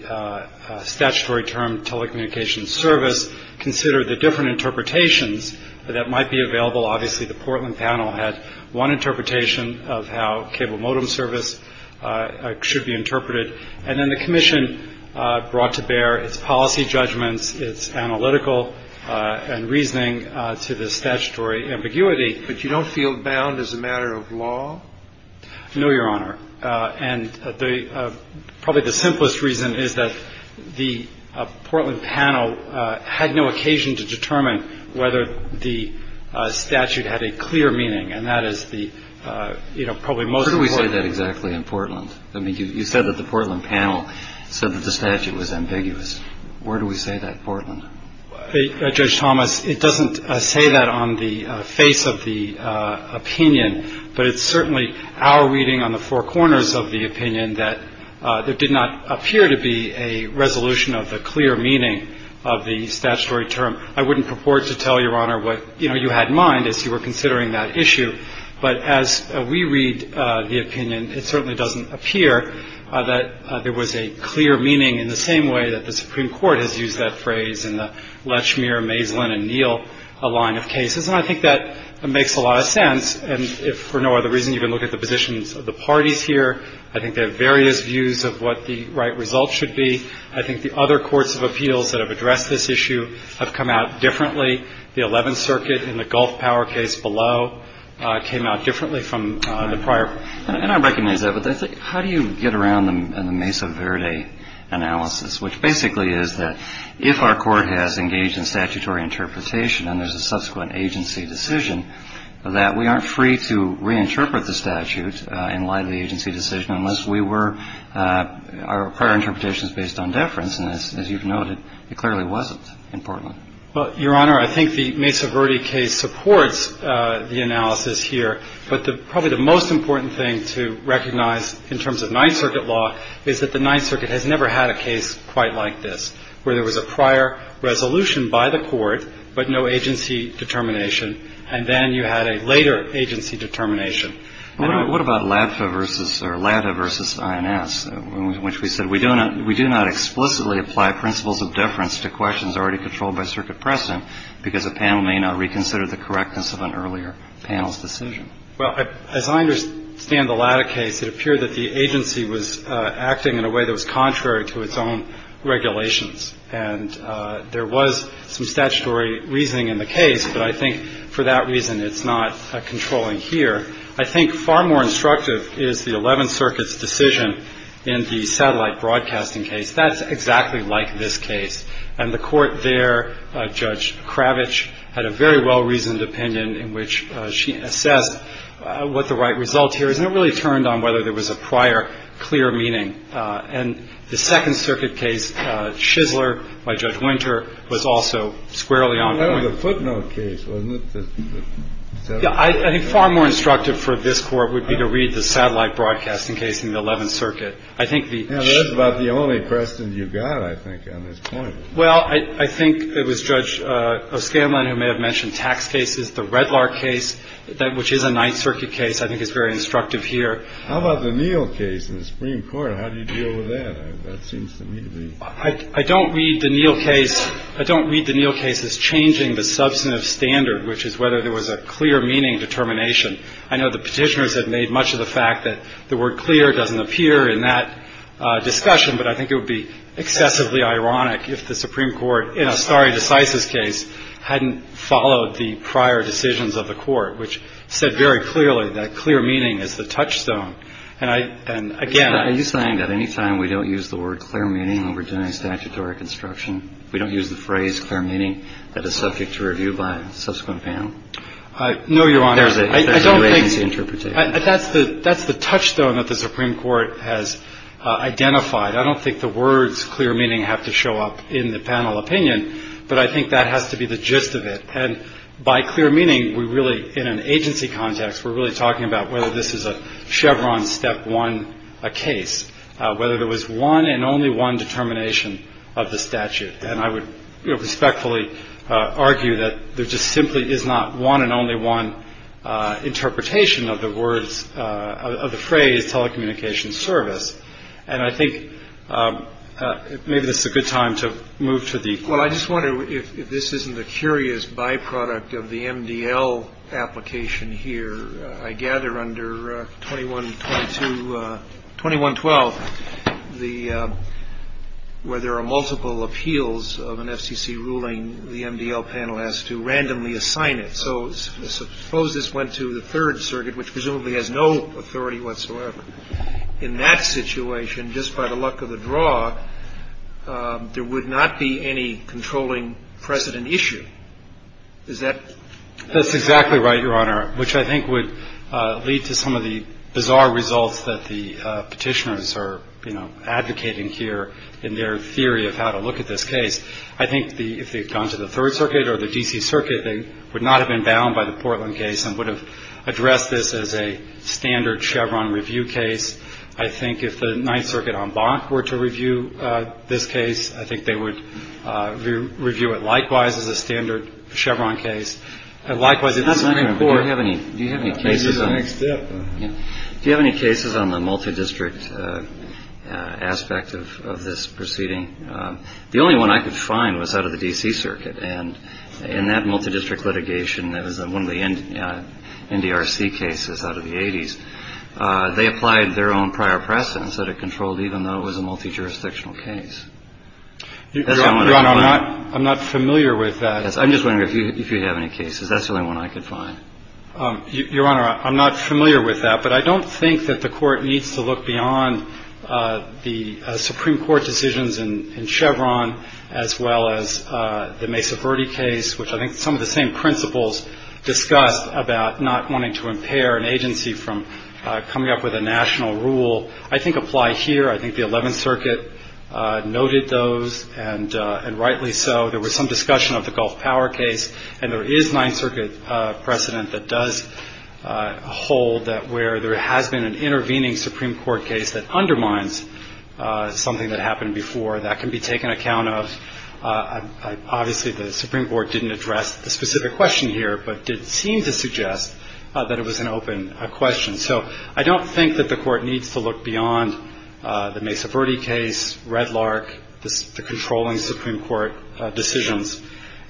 statutory term telecommunications service, considered the different interpretations that might be available. Obviously, the Portland panel has one interpretation of how cable modem service should be interpreted. And then the Commission brought to bear its policy judgments, its analytical and reasoning to the statutory ambiguity. But you don't feel bound as a matter of law? No, Your Honor. And probably the simplest reason is that the Portland panel had no occasion to determine whether the statute had a clear meaning, and that is the probably most important thing. Where do we find that exactly in Portland? You said that the Portland panel said that the statute was ambiguous. Where do we say that in Portland? Judge Thomas, it doesn't say that on the face of the opinion, but it's certainly our reading on the four corners of the opinion that there did not appear to be a resolution of the clear meaning of the statutory term. I wouldn't purport to tell, Your Honor, what you had in mind as you were considering that issue. But as we read the opinion, it certainly doesn't appear that there was a clear meaning in the same way that the Supreme Court has used that phrase in the Lechmere, Mazelin and Neal line of cases. And I think that makes a lot of sense. And if for no other reason you can look at the positions of the parties here, I think they have various views of what the right results should be. I think the other courts of appeals that have addressed this issue have come out differently. The Eleventh Circuit in the Gulf Power case below came out differently from the prior. I recognize that, but how do you get around a Mesa Verde analysis, which basically is that if our court has engaged in statutory interpretation and there's a subsequent agency decision, that we aren't free to reinterpret the statute and lie to the agency decision unless we were – our prior interpretation is based on deference. And as you've noted, it clearly wasn't in Portland. Well, Your Honor, I think the Mesa Verde case supports the analysis here. But probably the most important thing to recognize in terms of Ninth Circuit law is that the Ninth Circuit has never had a case quite like this, where there was a prior resolution by the court but no agency determination, and then you had a later agency determination. What about LATFA versus – or LATFA versus INS, which we said we do not – we do not exclusively apply principles of deference to questions already controlled by circuit precedent because a panel may not reconsider the correctness of an earlier panel's decision. Well, as I understand the LATA case, it appeared that the agency was acting in a way that was contrary to its own regulations. And there was some statutory reasoning in the case, but I think for that reason it's not controlling here. I think far more instructive is the Eleventh Circuit's decision in the satellite broadcasting case. That's exactly like this case. And the court there, Judge Kravich, had a very well-reasoned opinion in which she assessed what the right result here is, and it really turned on whether there was a prior clear meaning. And the Second Circuit case, Shizzler by Judge Winter, was also squarely on point. Well, that was a footnote case, wasn't it? Yeah, I think far more instructive for this court would be to read the satellite broadcasting case in the Eleventh Circuit. Now, that's about the only precedent you've got, I think, on this point. Well, I think it was Judge O'Scanlan who may have mentioned tax cases, the Redlar case, which is a Ninth Circuit case. I think it's very instructive here. How about the Neal case in the Supreme Court? How do you deal with that? I don't read the Neal case as changing the substantive standard, which is whether there was a clear meaning determination. I know the petitioners have made much of the fact that the word clear doesn't appear in that discussion, but I think it would be excessively ironic if the Supreme Court, in a stare decisis case, hadn't followed the prior decisions of the court, which said very clearly that clear meaning is the touchstone. And, again, I... Are you saying that any time we don't use the word clear meaning in Virginia statutory construction, we don't use the phrase clear meaning as a subject to review by a subsequent panel? No, Your Honor. I don't think that's the touchstone that the Supreme Court has identified. I don't think the words clear meaning have to show up in the panel opinion, but I think that has to be the gist of it. And by clear meaning, we really, in an agency context, we're really talking about whether this is a Chevron step one case, whether there was one and only one determination of the statute. And I would respectfully argue that there just simply is not one and only one interpretation of the words, of the phrase telecommunications service. And I think maybe this is a good time to move to the... Well, I just wonder if this isn't a curious byproduct of the MDL application here. I gather under 2112, where there are multiple appeals of an FCC ruling, the MDL panel has to randomly assign it. So suppose this went to the Third Circuit, which presumably has no authority whatsoever. In that situation, just by the luck of the draw, there would not be any controlling precedent issue. Is that... That's right, Your Honor, which I think would lead to some of the bizarre results that the petitioners are advocating here in their theory of how to look at this case. I think if it had gone to the Third Circuit or the D.C. Circuit, they would not have been bound by the Portland case and would have addressed this as a standard Chevron review case. I think if the Ninth Circuit en banc were to review this case, I think they would review it likewise as a standard Chevron case. Do you have any cases on the multidistrict aspect of this proceeding? The only one I could find was out of the D.C. Circuit, and in that multidistrict litigation, that was one of the NDRC cases out of the 80s, they applied their own prior precedence that it controlled even though it was a multijurisdictional case. Your Honor, I'm not familiar with that. I'm just wondering if you have any cases. That's the only one I could find. Your Honor, I'm not familiar with that, but I don't think that the Court needs to look beyond the Supreme Court decisions in Chevron as well as the Mesa Verde case, which I think some of the same principles discuss about not wanting to impair an agency from coming up with a national rule. I think apply here. I think the Eleventh Circuit noted those, and rightly so. There was some discussion of the Gulf Power case, and there is Ninth Circuit precedent that does hold that where there has been an intervening Supreme Court case that undermines something that happened before, that can be taken account of. Obviously, the Supreme Court didn't address the specific question here, but did seem to suggest that it was an open question. So I don't think that the Court needs to look beyond the Mesa Verde case, Redlark, the controlling Supreme Court decisions.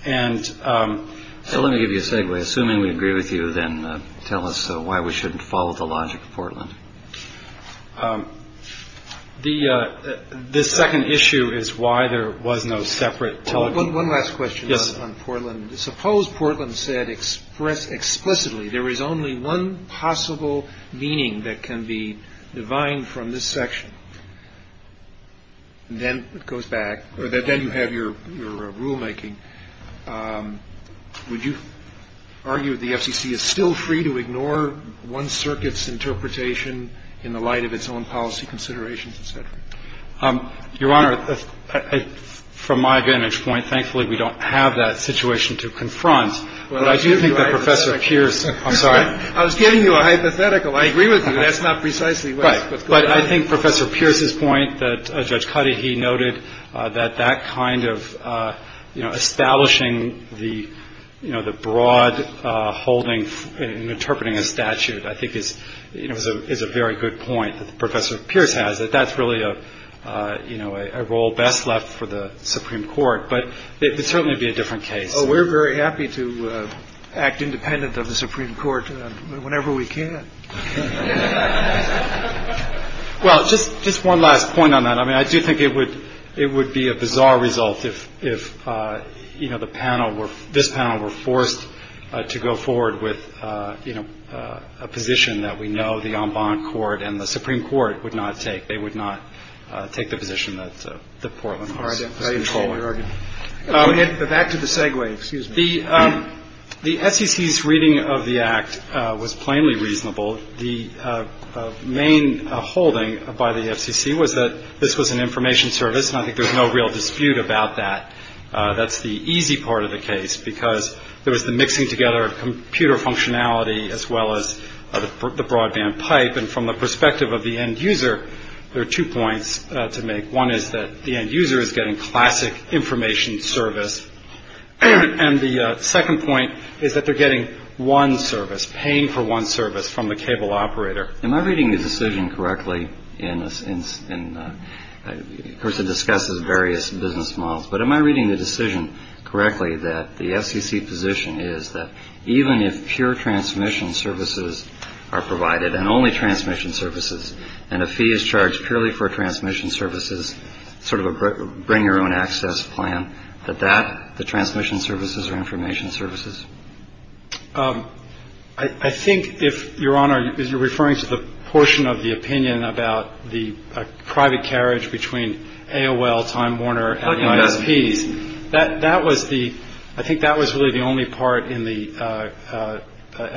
And let me give you a segue. Assuming we agree with you, then tell us why we shouldn't follow the logic of Portland. The second issue is why there was no separate television. One last question on Portland. Suppose Portland said explicitly there is only one possible meaning that can be defined from this section, and then it goes back, or then you have your rulemaking. Would you argue the SEC is still free to ignore one circuit's interpretation in the light of its own policy considerations, et cetera? Your Honor, from my vantage point, thankfully, we don't have that situation to confront. But I do think that Professor Pierce – I'm sorry. I was giving you a hypothetical. I agree with you. That's not precisely what – Right. But I think Professor Pierce's point that Judge Cuddy, he noted that that kind of, you know, establishing the, you know, the broad holdings in interpreting a statute, I think is, you know, is a very good point that Professor Pierce has, that that's really a role best left for the Supreme Court. But it would certainly be a different case. We're very happy to act independent of the Supreme Court whenever we can. Well, just one last point on that. I mean, I do think it would be a bizarre result if, you know, the panel were – a position that we know the en banc court and the Supreme Court would not take. They would not take the position that the Portland– Right. I totally agree. Back to the segue. Excuse me. The SEC's reading of the Act was plainly reasonable. The main holding by the SEC was that this was an information service, and I think there's no real dispute about that. That's the easy part of the case, because there is the mixing together of computer functionality as well as the broadband type. And from the perspective of the end user, there are two points to make. One is that the end user is getting classic information service. And the second point is that they're getting one service, paying for one service from the cable operator. Am I reading the decision correctly in the – But am I reading the decision correctly that the SEC position is that even if pure transmission services are provided and only transmission services, and a fee is charged purely for transmission services, sort of a bring-your-own-access plan, that that – the transmission services are information services? I think if, Your Honor, you're referring to the portion of the opinion about the private carriage between AOL, Time Warner, and ISPs, that was the – I think that was really the only part in the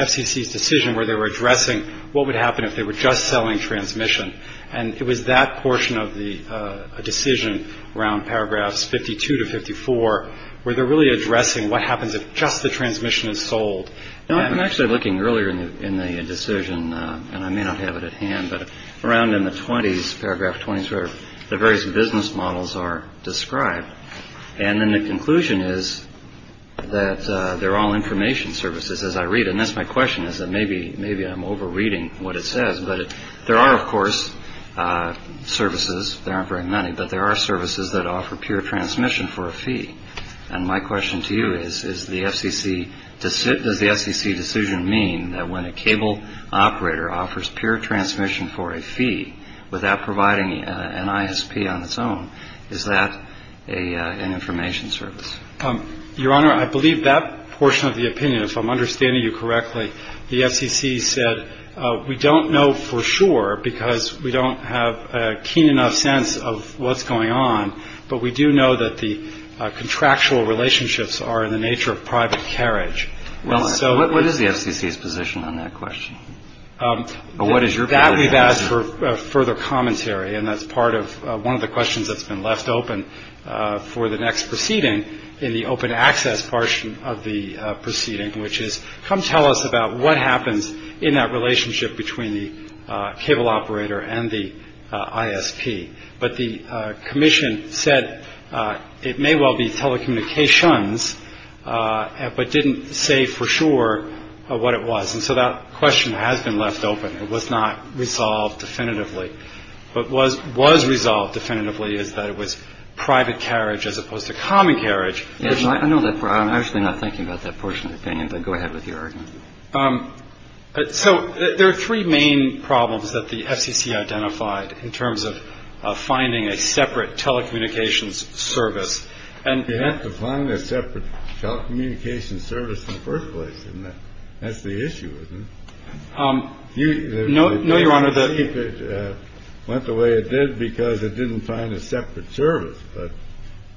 SEC's decision where they were addressing what would happen if they were just selling transmission. And it was that portion of the decision around paragraphs 52 to 54 where they're really addressing what happens if just the transmission is sold. I'm actually looking earlier in the decision, and I may not have it at hand, but around in the 20s, paragraph 20s, where the various business models are described. And then the conclusion is that they're all information services, as I read it. And that's my question, is that maybe I'm over-reading what it says, but there are, of course, services. There aren't very many, but there are services that offer pure transmission for a fee. And my question to you is, is the SEC – does the SEC decision mean that when a cable operator offers pure transmission for a fee without providing an ISP on its own, is that an information service? Your Honor, I believe that portion of the opinion, if I'm understanding you correctly, the SEC says we don't know for sure because we don't have a keen enough sense of what's going on, but we do know that the contractual relationships are in the nature of private carriage. What is the SEC's position on that question? That we've asked for further commentary, and that's part of one of the questions that's been left open for the next proceeding in the open access portion of the proceeding, which is come tell us about what happens in that relationship between the cable operator and the ISP. But the commission said it may well be telecommunications, but didn't say for sure what it was. And so that question has been left open. It was not resolved definitively. What was resolved definitively is that it was private carriage as opposed to common carriage. I'm actually not thinking about that portion of the opinion, but go ahead with your argument. So there are three main problems that the SEC identified in terms of finding a separate telecommunications service. You have to find a separate telecommunications service in the first place, and that's the issue, isn't it? No, Your Honor. It went the way it did because it didn't find a separate service. But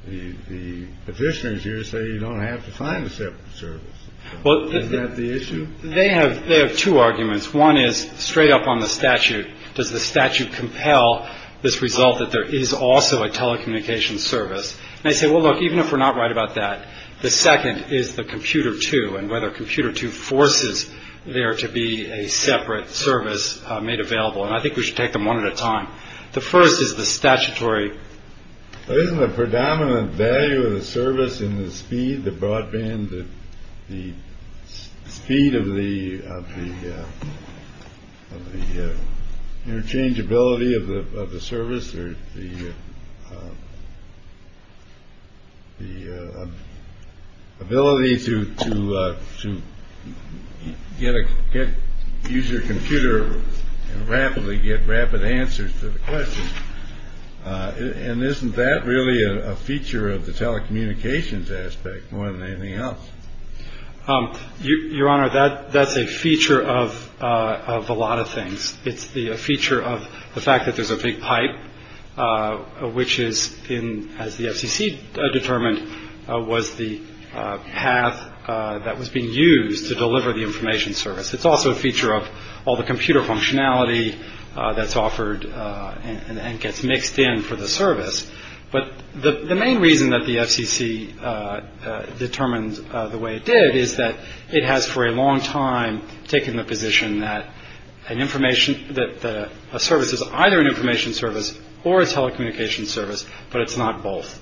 the petitioners here say you don't have to find a separate service. Isn't that the issue? They have two arguments. One is straight up on the statute. Does the statute compel this result that there is also a telecommunications service? And I say, well, look, even if we're not right about that, the second is the computer, too, and whether computer two forces there to be a separate service made available. And I think we should take them one at a time. The first is the statutory. Isn't the predominant value of the service in the speed, the broadband, the speed of the interchangeability of the service, or the ability to use your computer and rapidly get rapid answers to the questions? And isn't that really a feature of the telecommunications aspect more than anything else? Your Honor, that's a feature of a lot of things. It's the feature of the fact that there's a big pipe, which is in, as the FCC determined, was the path that was being used to deliver the information service. It's also a feature of all the computer functionality that's offered and gets mixed in for the service. But the main reason that the FCC determined the way it did is that it has, for a long time, taken the position that a service is either an information service or a telecommunications service, but it's not both.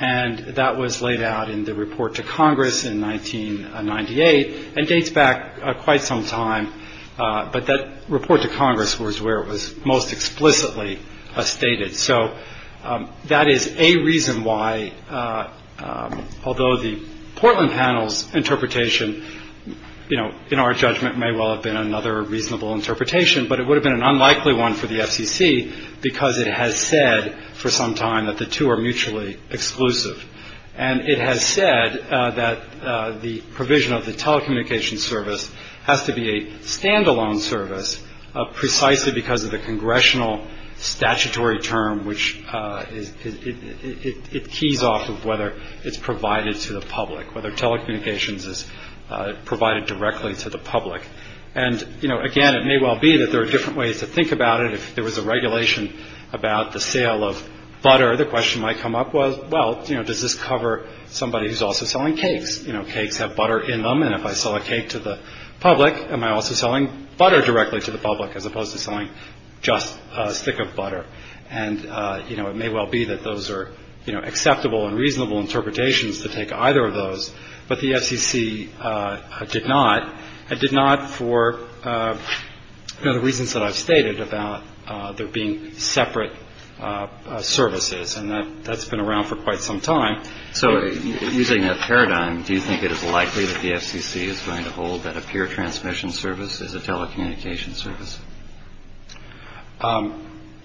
And that was laid out in the report to Congress in 1998 and dates back quite some time. But that report to Congress was where it was most explicitly stated. So that is a reason why, although the Portland panel's interpretation, you know, in our judgment, may well have been another reasonable interpretation, but it would have been an unlikely one for the FCC because it has said for some time that the two are mutually exclusive. And it has said that the provision of the telecommunications service has to be a stand-alone service, precisely because of the congressional statutory term, which it keys off of whether it's provided to the public, whether telecommunications is provided directly to the public. And, you know, again, it may well be that there are different ways to think about it. If there was a regulation about the sale of butter, the question might come up was, well, you know, does this cover somebody who's also selling cakes? You know, cakes have butter in them, and if I sell a cake to the public, am I also selling butter directly to the public as opposed to selling just a stick of butter? And, you know, it may well be that those are acceptable and reasonable interpretations to take either of those. But the FCC did not. It did not for the reasons that I've stated about there being separate services. And that's been around for quite some time. So using that paradigm, do you think it is likely that the FCC is going to hold that a pure transmission service is a telecommunications service?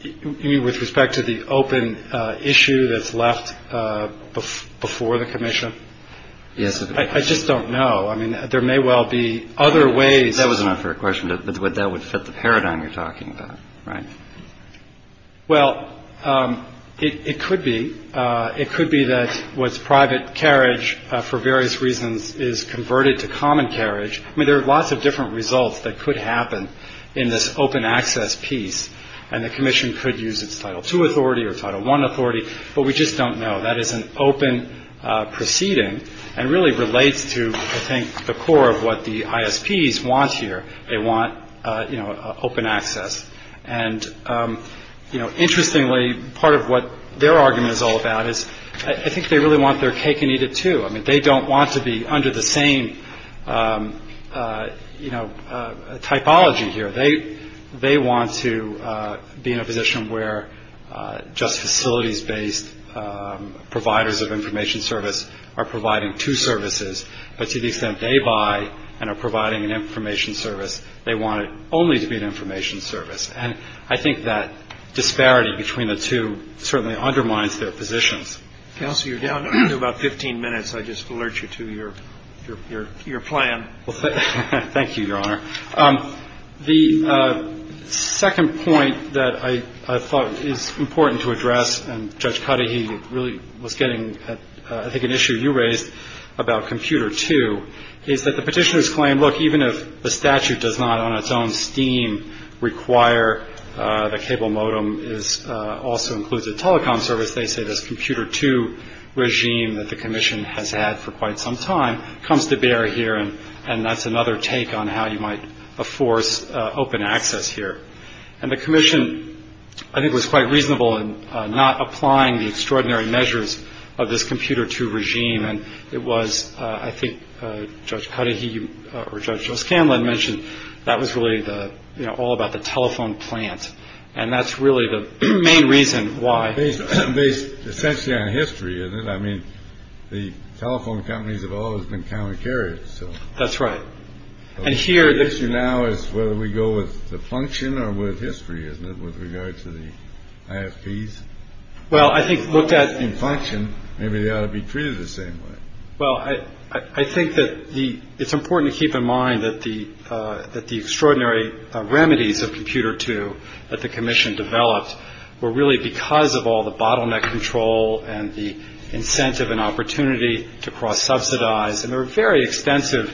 With respect to the open issue that's left before the commission? Yes. I just don't know. I mean, there may well be other ways. That was enough for a question, but that would set the paradigm you're talking about, right? Well, it could be. It could be that what's private carriage for various reasons is converted to common carriage. I mean, there are lots of different results that could happen in this open access piece, and the commission could use its Title II authority or Title I authority, but we just don't know. That is an open proceeding and really relates to, I think, the core of what the ISPs want here. They want open access. And interestingly, part of what their argument is all about is I think they really want their take needed too. I mean, they don't want to be under the same typology here. They want to be in a position where just facilities-based providers of information service are providing two services, but to the extent they buy and are providing an information service, they want it only to be an information service. And I think that disparity between the two certainly undermines their positions. Counselor, you're down to about 15 minutes. I just alert you to your plan. Thank you, Your Honor. The second point that I thought is important to address, and Judge Cudahy really was getting at, I think, an issue you raised about Computer II, is that the petitioner's claim, look, even if the statute does not on its own scheme require the cable modem also includes a telecom service, they say this Computer II regime that the commission has had for quite some time comes to bear here, and that's another take on how you might force open access here. And the commission, I think, was quite reasonable in not applying the extraordinary measures of this Computer II regime, and it was, I think, Judge Cudahy or Judge Scanlon mentioned that was really all about the telephone plant, and that's really the main reason why. Based essentially on history, is it? I mean, the telephone companies have always been counter-carriers. That's right. The issue now is whether we go with the function or with history, isn't it, with regard to the IFPs? Well, I think look at- In function, maybe they ought to be treated the same way. Well, I think that it's important to keep in mind that the extraordinary remedies of Computer II that the commission developed were really because of all the bottleneck control and the incentive and opportunity to cross-subsidize, and there were very extensive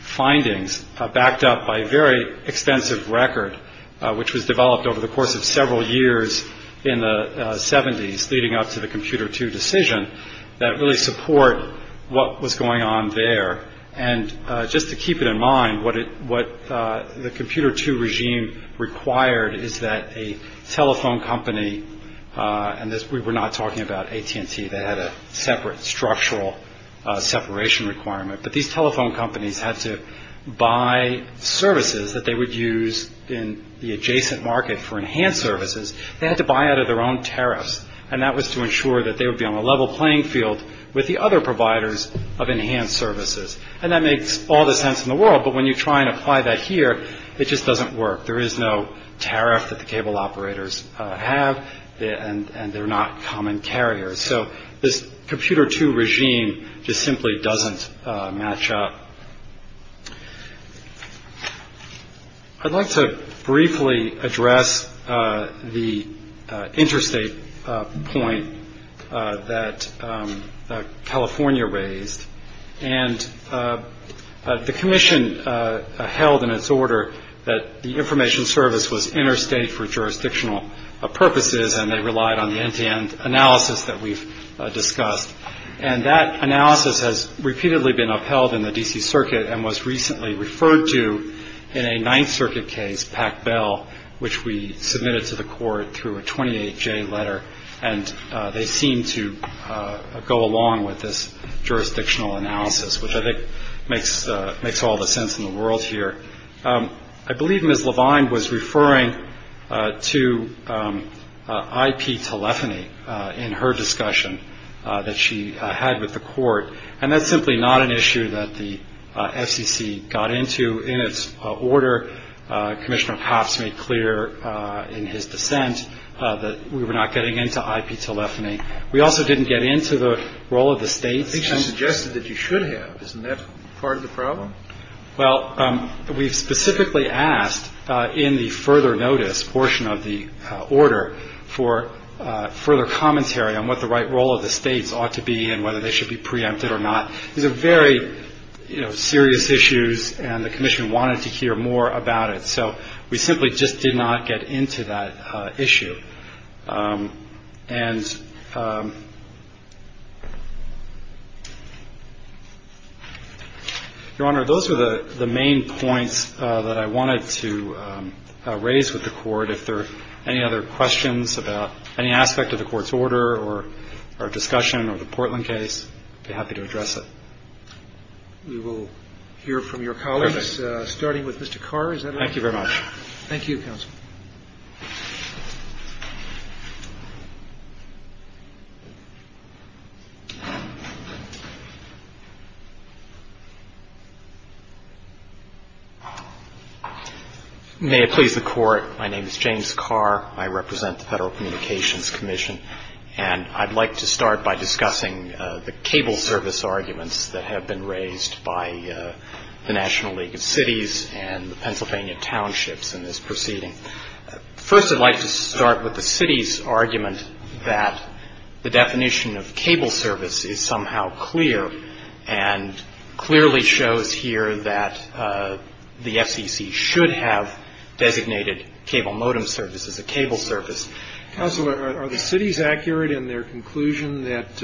findings backed up by a very extensive record, which was developed over the course of several years in the 70s leading up to the Computer II decision, that really support what was going on there. And just to keep it in mind, what the Computer II regime required is that a telephone company, and we were not talking about AT&T that had a separate structural separation requirement, but these telephone companies had to buy services that they would use in the adjacent market for enhanced services. They had to buy out of their own tariffs, and that was to ensure that they would be on a level playing field with the other providers of enhanced services. And that made all the sense in the world, but when you try and apply that here, it just doesn't work. There is no tariff that the cable operators have, and they're not common carriers. So this Computer II regime just simply doesn't match up. I'd like to briefly address the interstate point that California raised, and the commission held in its order that the information service was interstate for jurisdictional purposes, and they relied on the end-to-end analysis that we've discussed. And that analysis has repeatedly been upheld in the D.C. Circuit and was recently referred to in a Ninth Circuit case, Pack Bell, which we submitted to the court through a 28-J letter, and they seem to go along with this jurisdictional analysis, which I think makes all the sense in the world here. I believe Ms. Levine was referring to IP telephony in her discussion that she had with the court, and that's simply not an issue that the FCC got into in its order. Commissioner Pops made clear in his dissent that we were not getting into IP telephony. We also didn't get into the role of the state. I suggested that you should have. Isn't that part of the problem? Well, we specifically asked in the further notice portion of the order for further commentary on what the right role of the states ought to be and whether they should be preempted or not. These are very serious issues, and the commission wanted to hear more about it. So we simply just did not get into that issue. And, Your Honor, those are the main points that I wanted to raise with the court. If there are any other questions about any aspect of the court's order or discussion of the Portland case, I'd be happy to address it. We will hear from your colleagues, starting with Mr. Carr. Thank you very much. Thank you, Counsel. Thank you. May it please the Court, my name is James Carr. I represent the Federal Communications Commission, and I'd like to start by discussing the cable service arguments that have been raised by the National League of Cities and the Pennsylvania townships in this proceeding. First, I'd like to start with the city's argument that the definition of cable service is somehow clear and clearly shows here that the FTC should have designated cable modem service as a cable service. Counsel, are the cities accurate in their conclusion that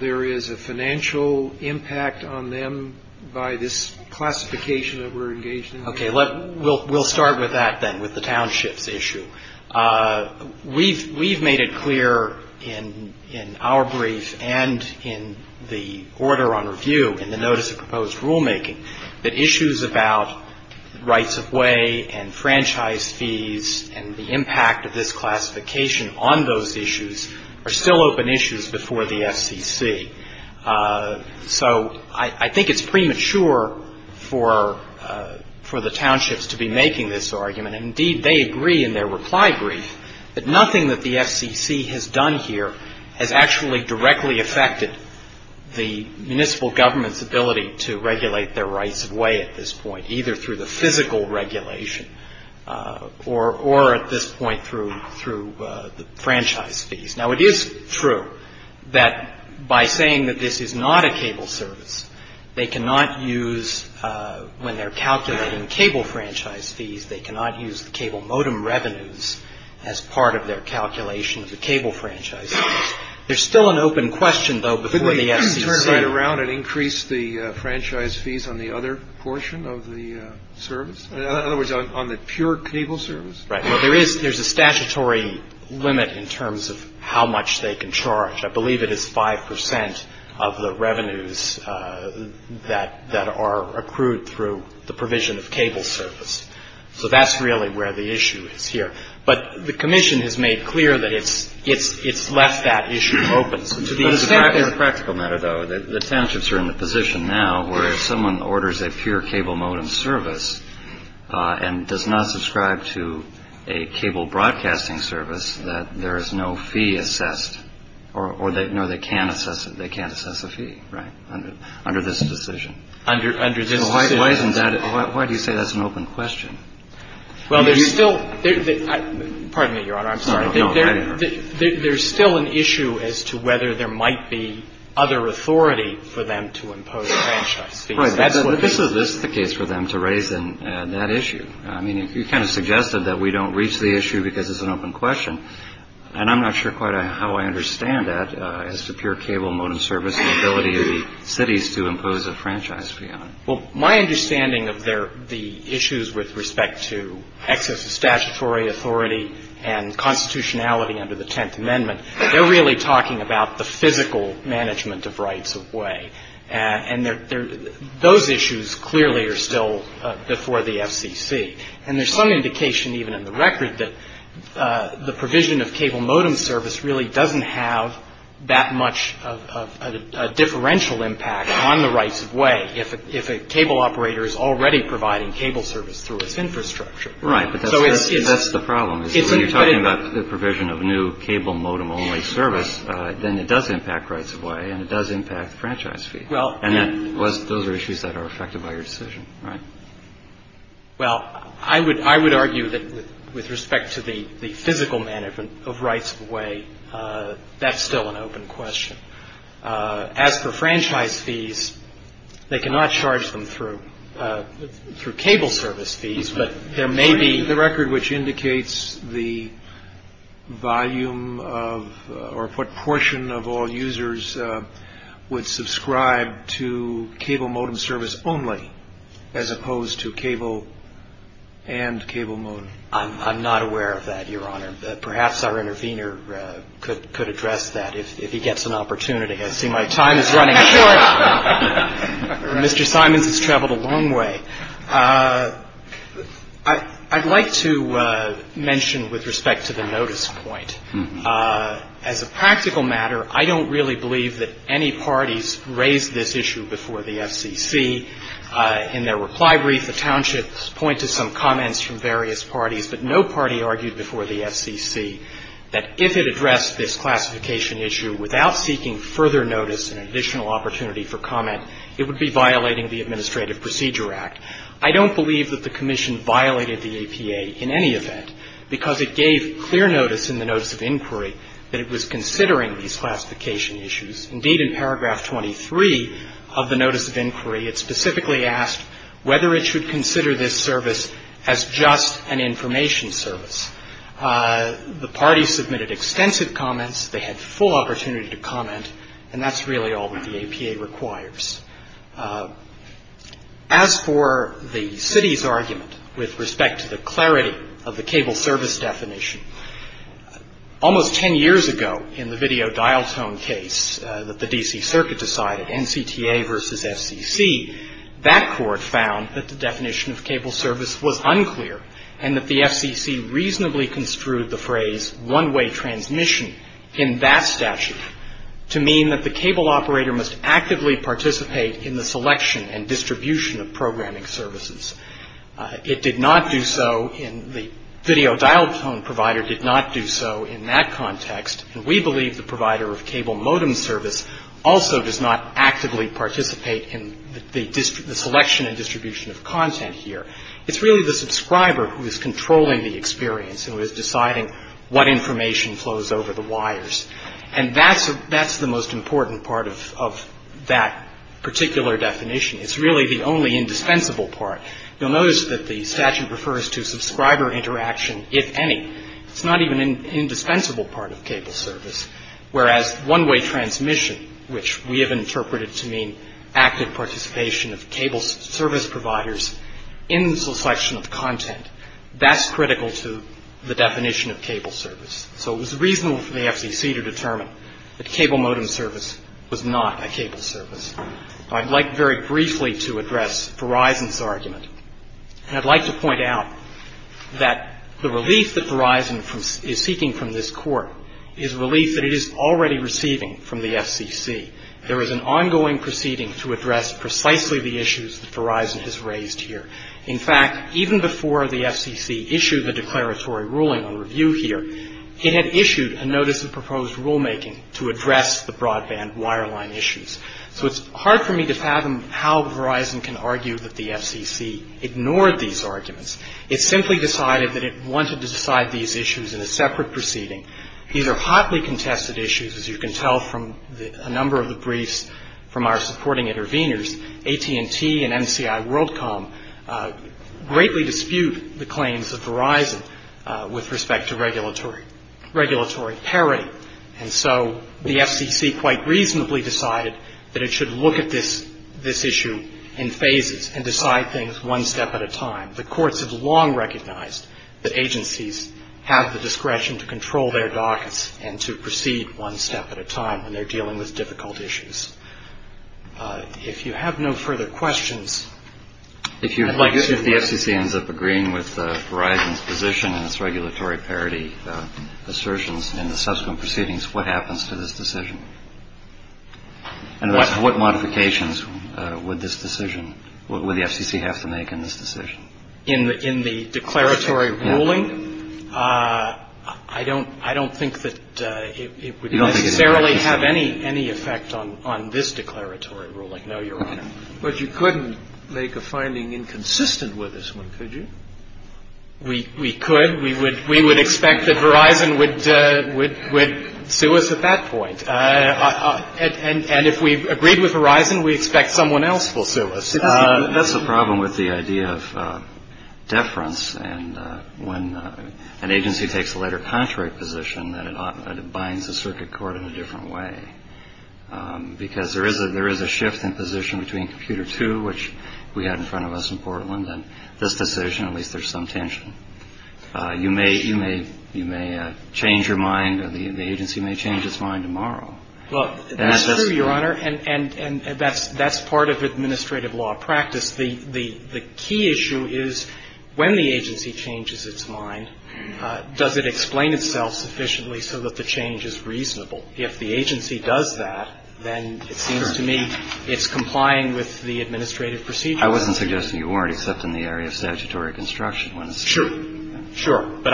there is a financial impact on them by this classification that we're engaged in? Okay, we'll start with that then, with the township issue. We've made it clear in our brief and in the order on review in the notice of proposed rulemaking that issues about rights of way and franchise fees and the impact of this classification on those issues are still open issues before the FCC. So, I think it's premature for the townships to be making this argument, and indeed they agree in their reply brief that nothing that the FCC has done here has actually directly affected the municipal government's ability to regulate their rights of way at this point, either through the physical regulation or at this point through the franchise fees. Now, it is true that by saying that this is not a cable service, they cannot use, when they're calculating cable franchise fees, they cannot use the cable modem revenues as part of their calculation of the cable franchise. There's still an open question, though, before the FCC. Could we turn it around and increase the franchise fees on the other portion of the service? In other words, on the pure cable service? Right. There's a statutory limit in terms of how much they can charge. I believe it is five percent of the revenues that are accrued through the provision of cable service. So, that's really where the issue is here. But the commission has made clear that it's left that issue open. The townships are in a position now where if someone orders a pure cable modem service and does not subscribe to a cable broadcasting service, that there is no fee assessed. No, they can't assess a fee under this decision. Why do you say that's an open question? Pardon me, Your Honor, I'm sorry. There's still an issue as to whether there might be other authority for them to impose franchise fees. Right, but this is the case for them to raise in that issue. I mean, you kind of suggested that we don't reach the issue because it's an open question, and I'm not sure quite how I understand that as to pure cable modem service and the ability of the cities to impose a franchise fee on it. Well, my understanding of the issues with respect to excess of statutory authority and constitutionality under the Tenth Amendment, they're really talking about the physical management of rights of way. And those issues clearly are still before the FTC. And there's some indication even in the record that the provision of cable modem service really doesn't have that much of a differential impact on the rights of way if a cable operator is already providing cable service through its infrastructure. Right, but that's the problem. When you're talking about the provision of new cable modem only service, then it does impact rights of way and it does impact franchise fees. And those are issues that are affected by your decision. Well, I would argue that with respect to the physical management of rights of way, that's still an open question. As for franchise fees, they cannot charge them through cable service fees, but there may be- a portion of all users would subscribe to cable modem service only as opposed to cable and cable modem. I'm not aware of that, Your Honor. Perhaps our intervener could address that if he gets an opportunity. I see my time is running short. Mr. Simons has traveled a long way. I'd like to mention with respect to the notice point. As a practical matter, I don't really believe that any parties raised this issue before the FCC. In their reply brief, the townships point to some comments from various parties that no party argued before the FCC that if it addressed this classification issue without seeking further notice and additional opportunity for comment, it would be violating the Administrative Procedure Act. I don't believe that the Commission violated the APA in any event because it gave clear notice in the notice of inquiry that it was considering these classification issues. Indeed, in paragraph 23 of the notice of inquiry, it specifically asked whether it should consider this service as just an information service. The parties submitted extensive comments. They had full opportunity to comment, and that's really all that the APA requires. As for the city's argument with respect to the clarity of the cable service definition, almost 10 years ago in the video dial tone case that the D.C. Circuit decided, NCTA versus FCC, that court found that the definition of cable service was unclear and that the FCC reasonably construed the phrase one-way transmission in that statute to mean that the cable operator must actively participate in the selection and distribution of programming services. It did not do so in the video dial tone provider did not do so in that context, and we believe the provider of cable modem service also does not actively participate in the selection and distribution of content here. It's really the subscriber who is controlling the experience and who is deciding what information flows over the wires. And that's the most important part of that particular definition. It's really the only indispensable part. You'll notice that the statute refers to subscriber interaction, if any. It's not even an indispensable part of cable service, whereas one-way transmission, which we have interpreted to mean active participation of cable service providers in the selection of content, that's critical to the definition of cable service. So it was reasonable for the FCC to determine that cable modem service was not a cable service. I'd like very briefly to address Verizon's argument. And I'd like to point out that the relief that Verizon is seeking from this court is relief that it is already receiving from the FCC. There is an ongoing proceeding to address precisely the issues that Verizon has raised here. In fact, even before the FCC issued the declaratory ruling on review here, it had issued a notice of proposed rulemaking to address the broadband wireline issues. So it's hard for me to fathom how Verizon can argue that the FCC ignored these arguments. It simply decided that it wanted to decide these issues in a separate proceeding. These are hotly contested issues, as you can tell from a number of the briefs from our supporting intervenors. AT&T and MCI WorldCom greatly dispute the claims of Verizon with respect to regulatory parity. And so the FCC quite reasonably decided that it should look at this issue in phases and decide things one step at a time. The courts have long recognized that agencies have the discretion to control their dockets and to proceed one step at a time when they're dealing with difficult issues. If you have no further questions. If the FCC ends up agreeing with Verizon's position in its regulatory parity assertions in the subsequent proceedings, what happens to this decision? And what modifications would this decision, would the FCC have to make in this decision? In the declaratory ruling, I don't think that it would necessarily have any effect on this declaratory ruling. No, you're right. But you couldn't make a finding inconsistent with this one, could you? We could. We would expect that Verizon would sue us at that point. And if we've agreed with Verizon, we expect someone else will sue us. That's the problem with the idea of deference. And when an agency takes a letter of contract position, it binds the circuit court in a different way. Because there is a shift in position between Computer 2, which we have in front of us in Portland, and this decision, at least there's some tension. You may change your mind, or the agency may change its mind tomorrow. Well, that's true, Your Honor, and that's part of administrative law practice. The key issue is when the agency changes its mind, does it explain itself sufficiently so that the change is reasonable? If the agency does that, then it seems to me it's complying with the administrative procedure. I wasn't suggesting you weren't, except in the area of statutory construction. Sure, sure. But,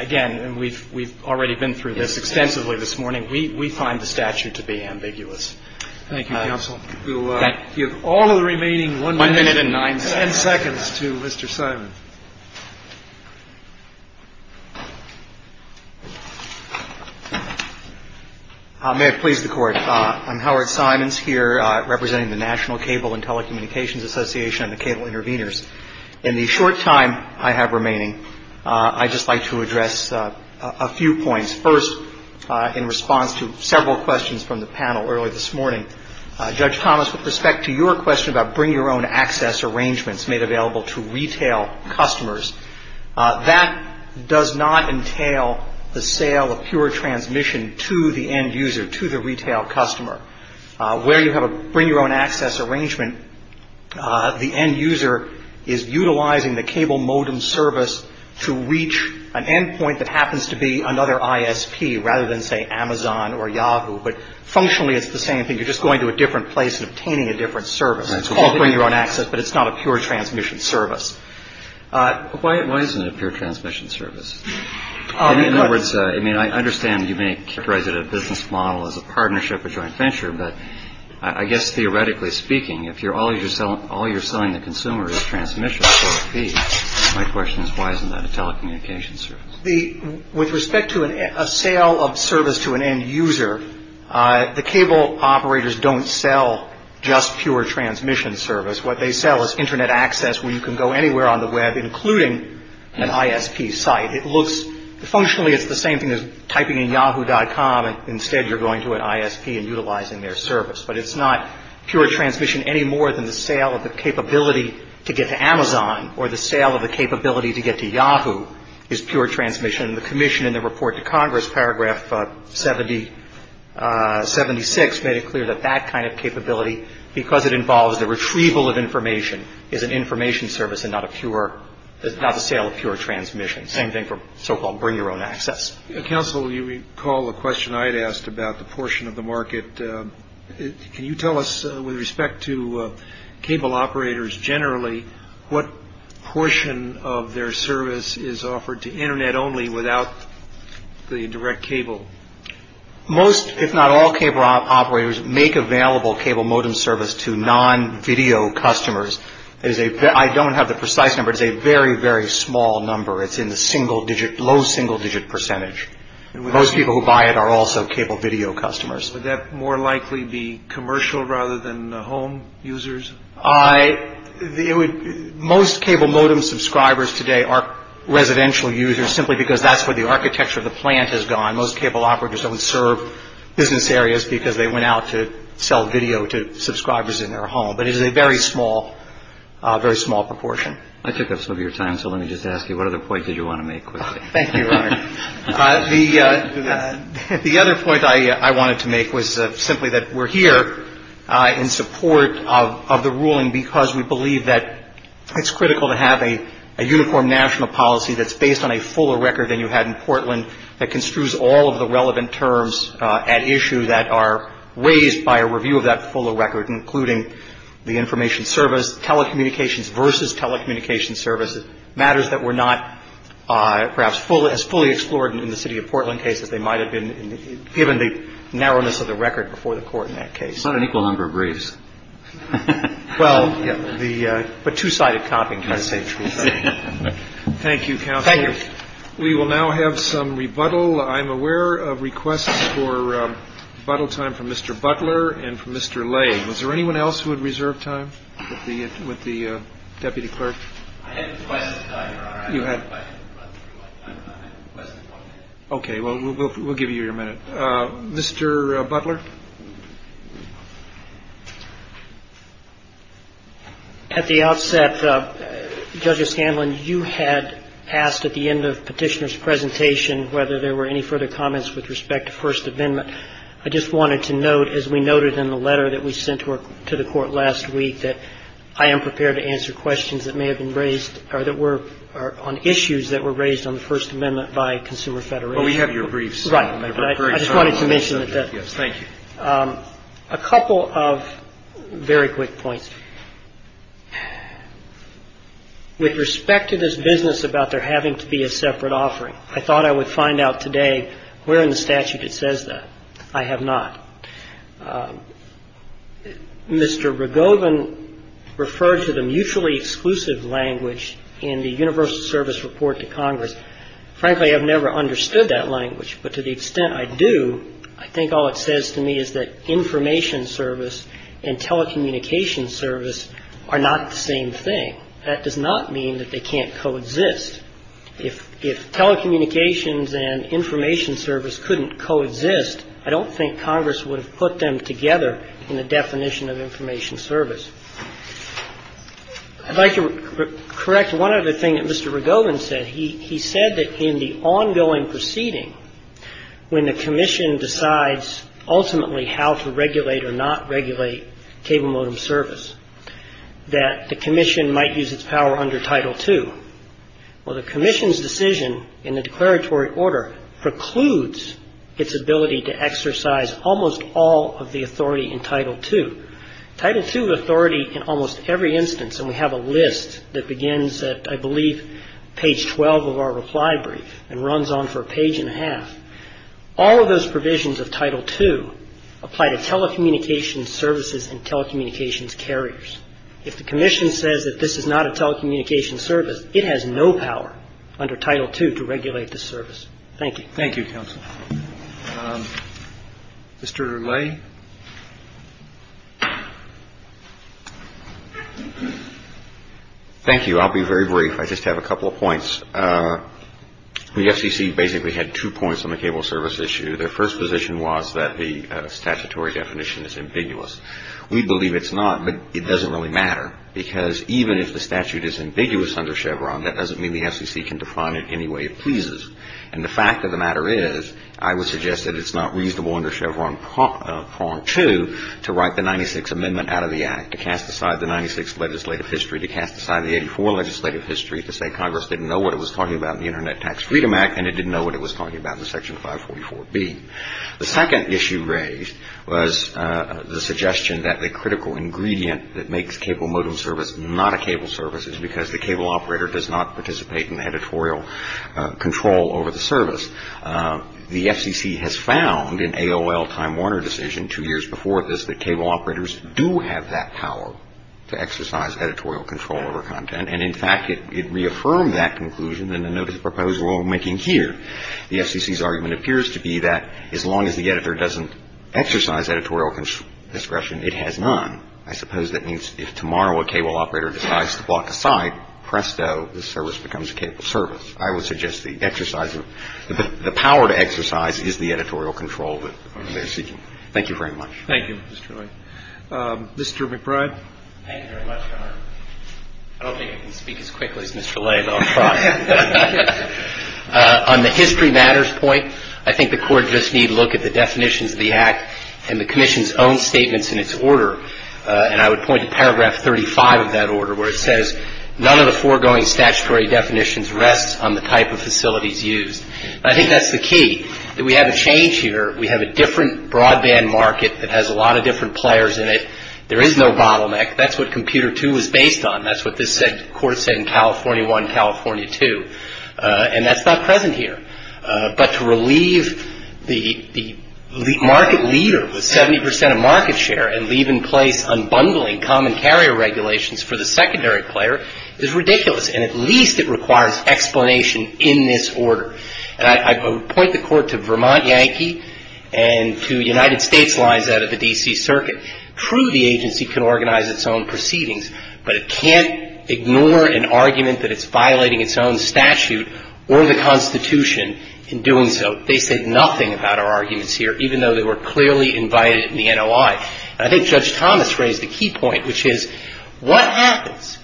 again, we've already been through this extensively this morning. We find the statute to be ambiguous. Thank you, counsel. We'll give all the remaining one minute and nine seconds to Mr. Simon. May I please the Court? I'm Howard Simons here, representing the National Cable and Telecommunications Association and the Cable Interveners. In the short time I have remaining, I'd just like to address a few points. First, in response to several questions from the panel earlier this morning, Judge Thomas, with respect to your question about bring-your-own-access arrangements made available to retail customers, that does not entail the sale of pure transmission to the end user, to the retail customer. Where you have a bring-your-own-access arrangement, the end user is utilizing the cable modem service to reach an endpoint that happens to be another ISP, rather than, say, Amazon or Yahoo. But, functionally, it's the same thing. You're just going to a different place and obtaining a different service. It's called bring-your-own-access, but it's not a pure transmission service. Why isn't it pure transmission service? In other words, I understand you may characterize it as a business model, as a partnership, a joint venture, but I guess theoretically speaking, if all you're selling the consumer is transmission, my question is why isn't that a telecommunications service? With respect to a sale of service to an end user, the cable operators don't sell just pure transmission service. What they sell is Internet access where you can go anywhere on the Web, including an ISP site. Functionally, it's the same thing as typing in yahoo.com, and instead you're going to an ISP and utilizing their service. But it's not pure transmission any more than the sale of the capability to get to Amazon or the sale of the capability to get to Yahoo is pure transmission. The commission in the report to Congress, paragraph 76, made it clear that that kind of capability, because it involves a retrieval of information, is an information service and not a sale of pure transmission. Same thing for so-called bring your own access. Counsel, you recall a question I had asked about the portion of the market. Can you tell us, with respect to cable operators generally, what portion of their service is offered to Internet only without the direct cable? Most, if not all, cable operators make available cable modem service to non-video customers. I don't have the precise number. It's a very, very small number. It's in the low single-digit percentage. Most people who buy it are also cable video customers. Would that more likely be commercial rather than home users? Most cable modem subscribers today are residential users simply because that's where the architecture of the plant has gone. Most cable operators would serve business areas because they went out to sell video to subscribers in their home. But it is a very small proportion. I took up some of your time, so let me just ask you, what other point did you want to make? Thank you, Leonard. The other point I wanted to make was simply that we're here in support of the ruling because we believe that it's critical to have a uniform national policy that's based on a fuller record than you had in Portland that construes all of the relevant terms at issue that are raised by a review of that fuller record, including the information service, telecommunications versus telecommunications services, matters that were not perhaps as fully explored in the city of Portland case that they might have been given the narrowness of the record before the court in that case. It's not an equal number of briefs. Well, the two-sided comping, to say the truth. Thank you, counsel. Thank you. We will now have some rebuttal. I'm aware of requests for rebuttal time for Mr. Butler and for Mr. Lay. Was there anyone else who would reserve time with the deputy clerk? I had a question. Okay, well, we'll give you your minute. Mr. Butler? At the outset, Judge Scanlon, you had asked at the end of Petitioner's presentation whether there were any further comments with respect to First Amendment. I just wanted to note, as we noted in the letter that we sent to the court last week, that I am prepared to answer questions that may have been raised or that were on issues that were raised on the First Amendment by Consumer Federation. Well, we have your briefs. Right. I just wanted to mention that. Yes, thank you. A couple of very quick points. With respect to this business about there having to be a separate offering, I thought I would find out today where in the statute it says that. I have not. Mr. Rogovin referred to the mutually exclusive language in the Universal Service Report to Congress. Frankly, I've never understood that language, but to the extent I do, I think all it says to me is that information service and telecommunications service are not the same thing. That does not mean that they can't coexist. If telecommunications and information service couldn't coexist, I don't think Congress would have put them together in the definition of information service. I'd like to correct one other thing that Mr. Rogovin said. He said that in the ongoing proceeding, when the Commission decides ultimately how to regulate or not regulate table modem service, that the Commission might use its power under Title II. Well, the Commission's decision in the declaratory order precludes its ability to exercise almost all of the authority in Title II. Title II authority in almost every instance, and we have a list that begins at, I believe, page 12 of our reply brief and runs on for a page and a half. All of those provisions of Title II apply to telecommunications services and telecommunications carriers. If the Commission says that this is not a telecommunications service, it has no power under Title II to regulate the service. Thank you. Thank you, counsel. Mr. Le? Thank you. I'll be very brief. I just have a couple of points. The FCC basically had two points on the cable service issue. Their first position was that the statutory definition is ambiguous. We believe it's not, but it doesn't really matter because even if the statute is ambiguous under Chevron, that doesn't mean the FCC can define it any way it pleases. And the fact of the matter is, I would suggest that it's not reasonable under Chevron Part 2 to write the 96th Amendment out of the Act, to cast aside the 96th legislative history, to cast aside the 84th legislative history, to say Congress didn't know what it was talking about in the Internet Tax Freedom Act and it didn't know what it was talking about in Section 544B. The second issue raised was the suggestion that the critical ingredient that makes a cable modem service not a cable service is because the cable operator does not participate in editorial control over the service. The FCC has found in AOL Time Warner decision two years before this that cable operators do have that power to exercise editorial control over content, and in fact it reaffirmed that conclusion in the notice proposal we're making here. The FCC's argument appears to be that as long as the editor doesn't exercise editorial discretion, it has none. I suppose that means if tomorrow a cable operator decides to block a site, presto, the service becomes a cable service. I would suggest the exercise of the power to exercise is the editorial control that the FCC. Thank you very much. Thank you, Mr. Lane. Mr. McBride? Thank you very much, Your Honor. I don't think I can speak as quickly as Mr. Lane, I'll try. On the history matters point, I think the courts just need to look at the definitions of the Act and the Commission's own statements in its order, and I would point to paragraph 35 of that order where it says, none of the foregoing statutory definitions rest on the type of facilities used. I think that's the key, that we have a change here. We have a different broadband market that has a lot of different players in it. There is no bottleneck. That's what computer two was based on. That's what this court said in California one, California two, and that's not present here. But to relieve the market leader with 70% of market share and leave in place unbundling commentary regulations for the secondary player is ridiculous, and at least it requires explanation in this order. And I point the court to Vermont Yankee and to United States lines out of the D.C. Circuit. True, the agency can organize its own proceedings, but it can't ignore an argument that it's violating its own statute or the Constitution in doing so. They said nothing about our arguments here, even though they were clearly invited in the NOI. I think Judge Thomas raised a key point, which is, what happens?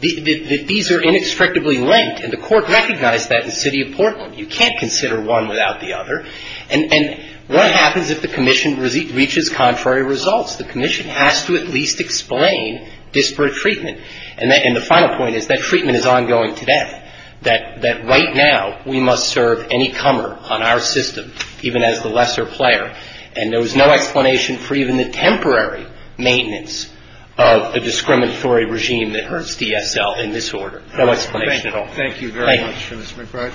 These are inextricably linked, and the court recognized that in the city of Portland. You can't consider one without the other. And what happens if the Commission reaches contrary results? The Commission has to at least explain disparate treatment, and the final point is that treatment is ongoing today, that right now we must serve any comer on our system, even as the lesser player, and there was no explanation for even the temporary maintenance of the discriminatory regime that hurts DSL in this order. No explanation at all. Thank you very much, Judge McBride.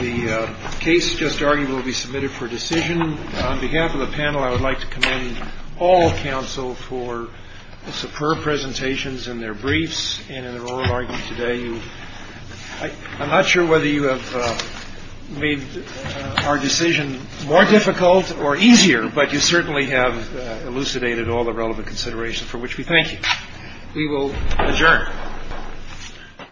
The case just argued will be submitted for decision. On behalf of the panel, I would like to commend all counsel for superb presentations in their briefs and in an oral argument today. I'm not sure whether you have made our decision more difficult or easier, but you certainly have elucidated all the relevant considerations, for which we thank you. We will adjourn.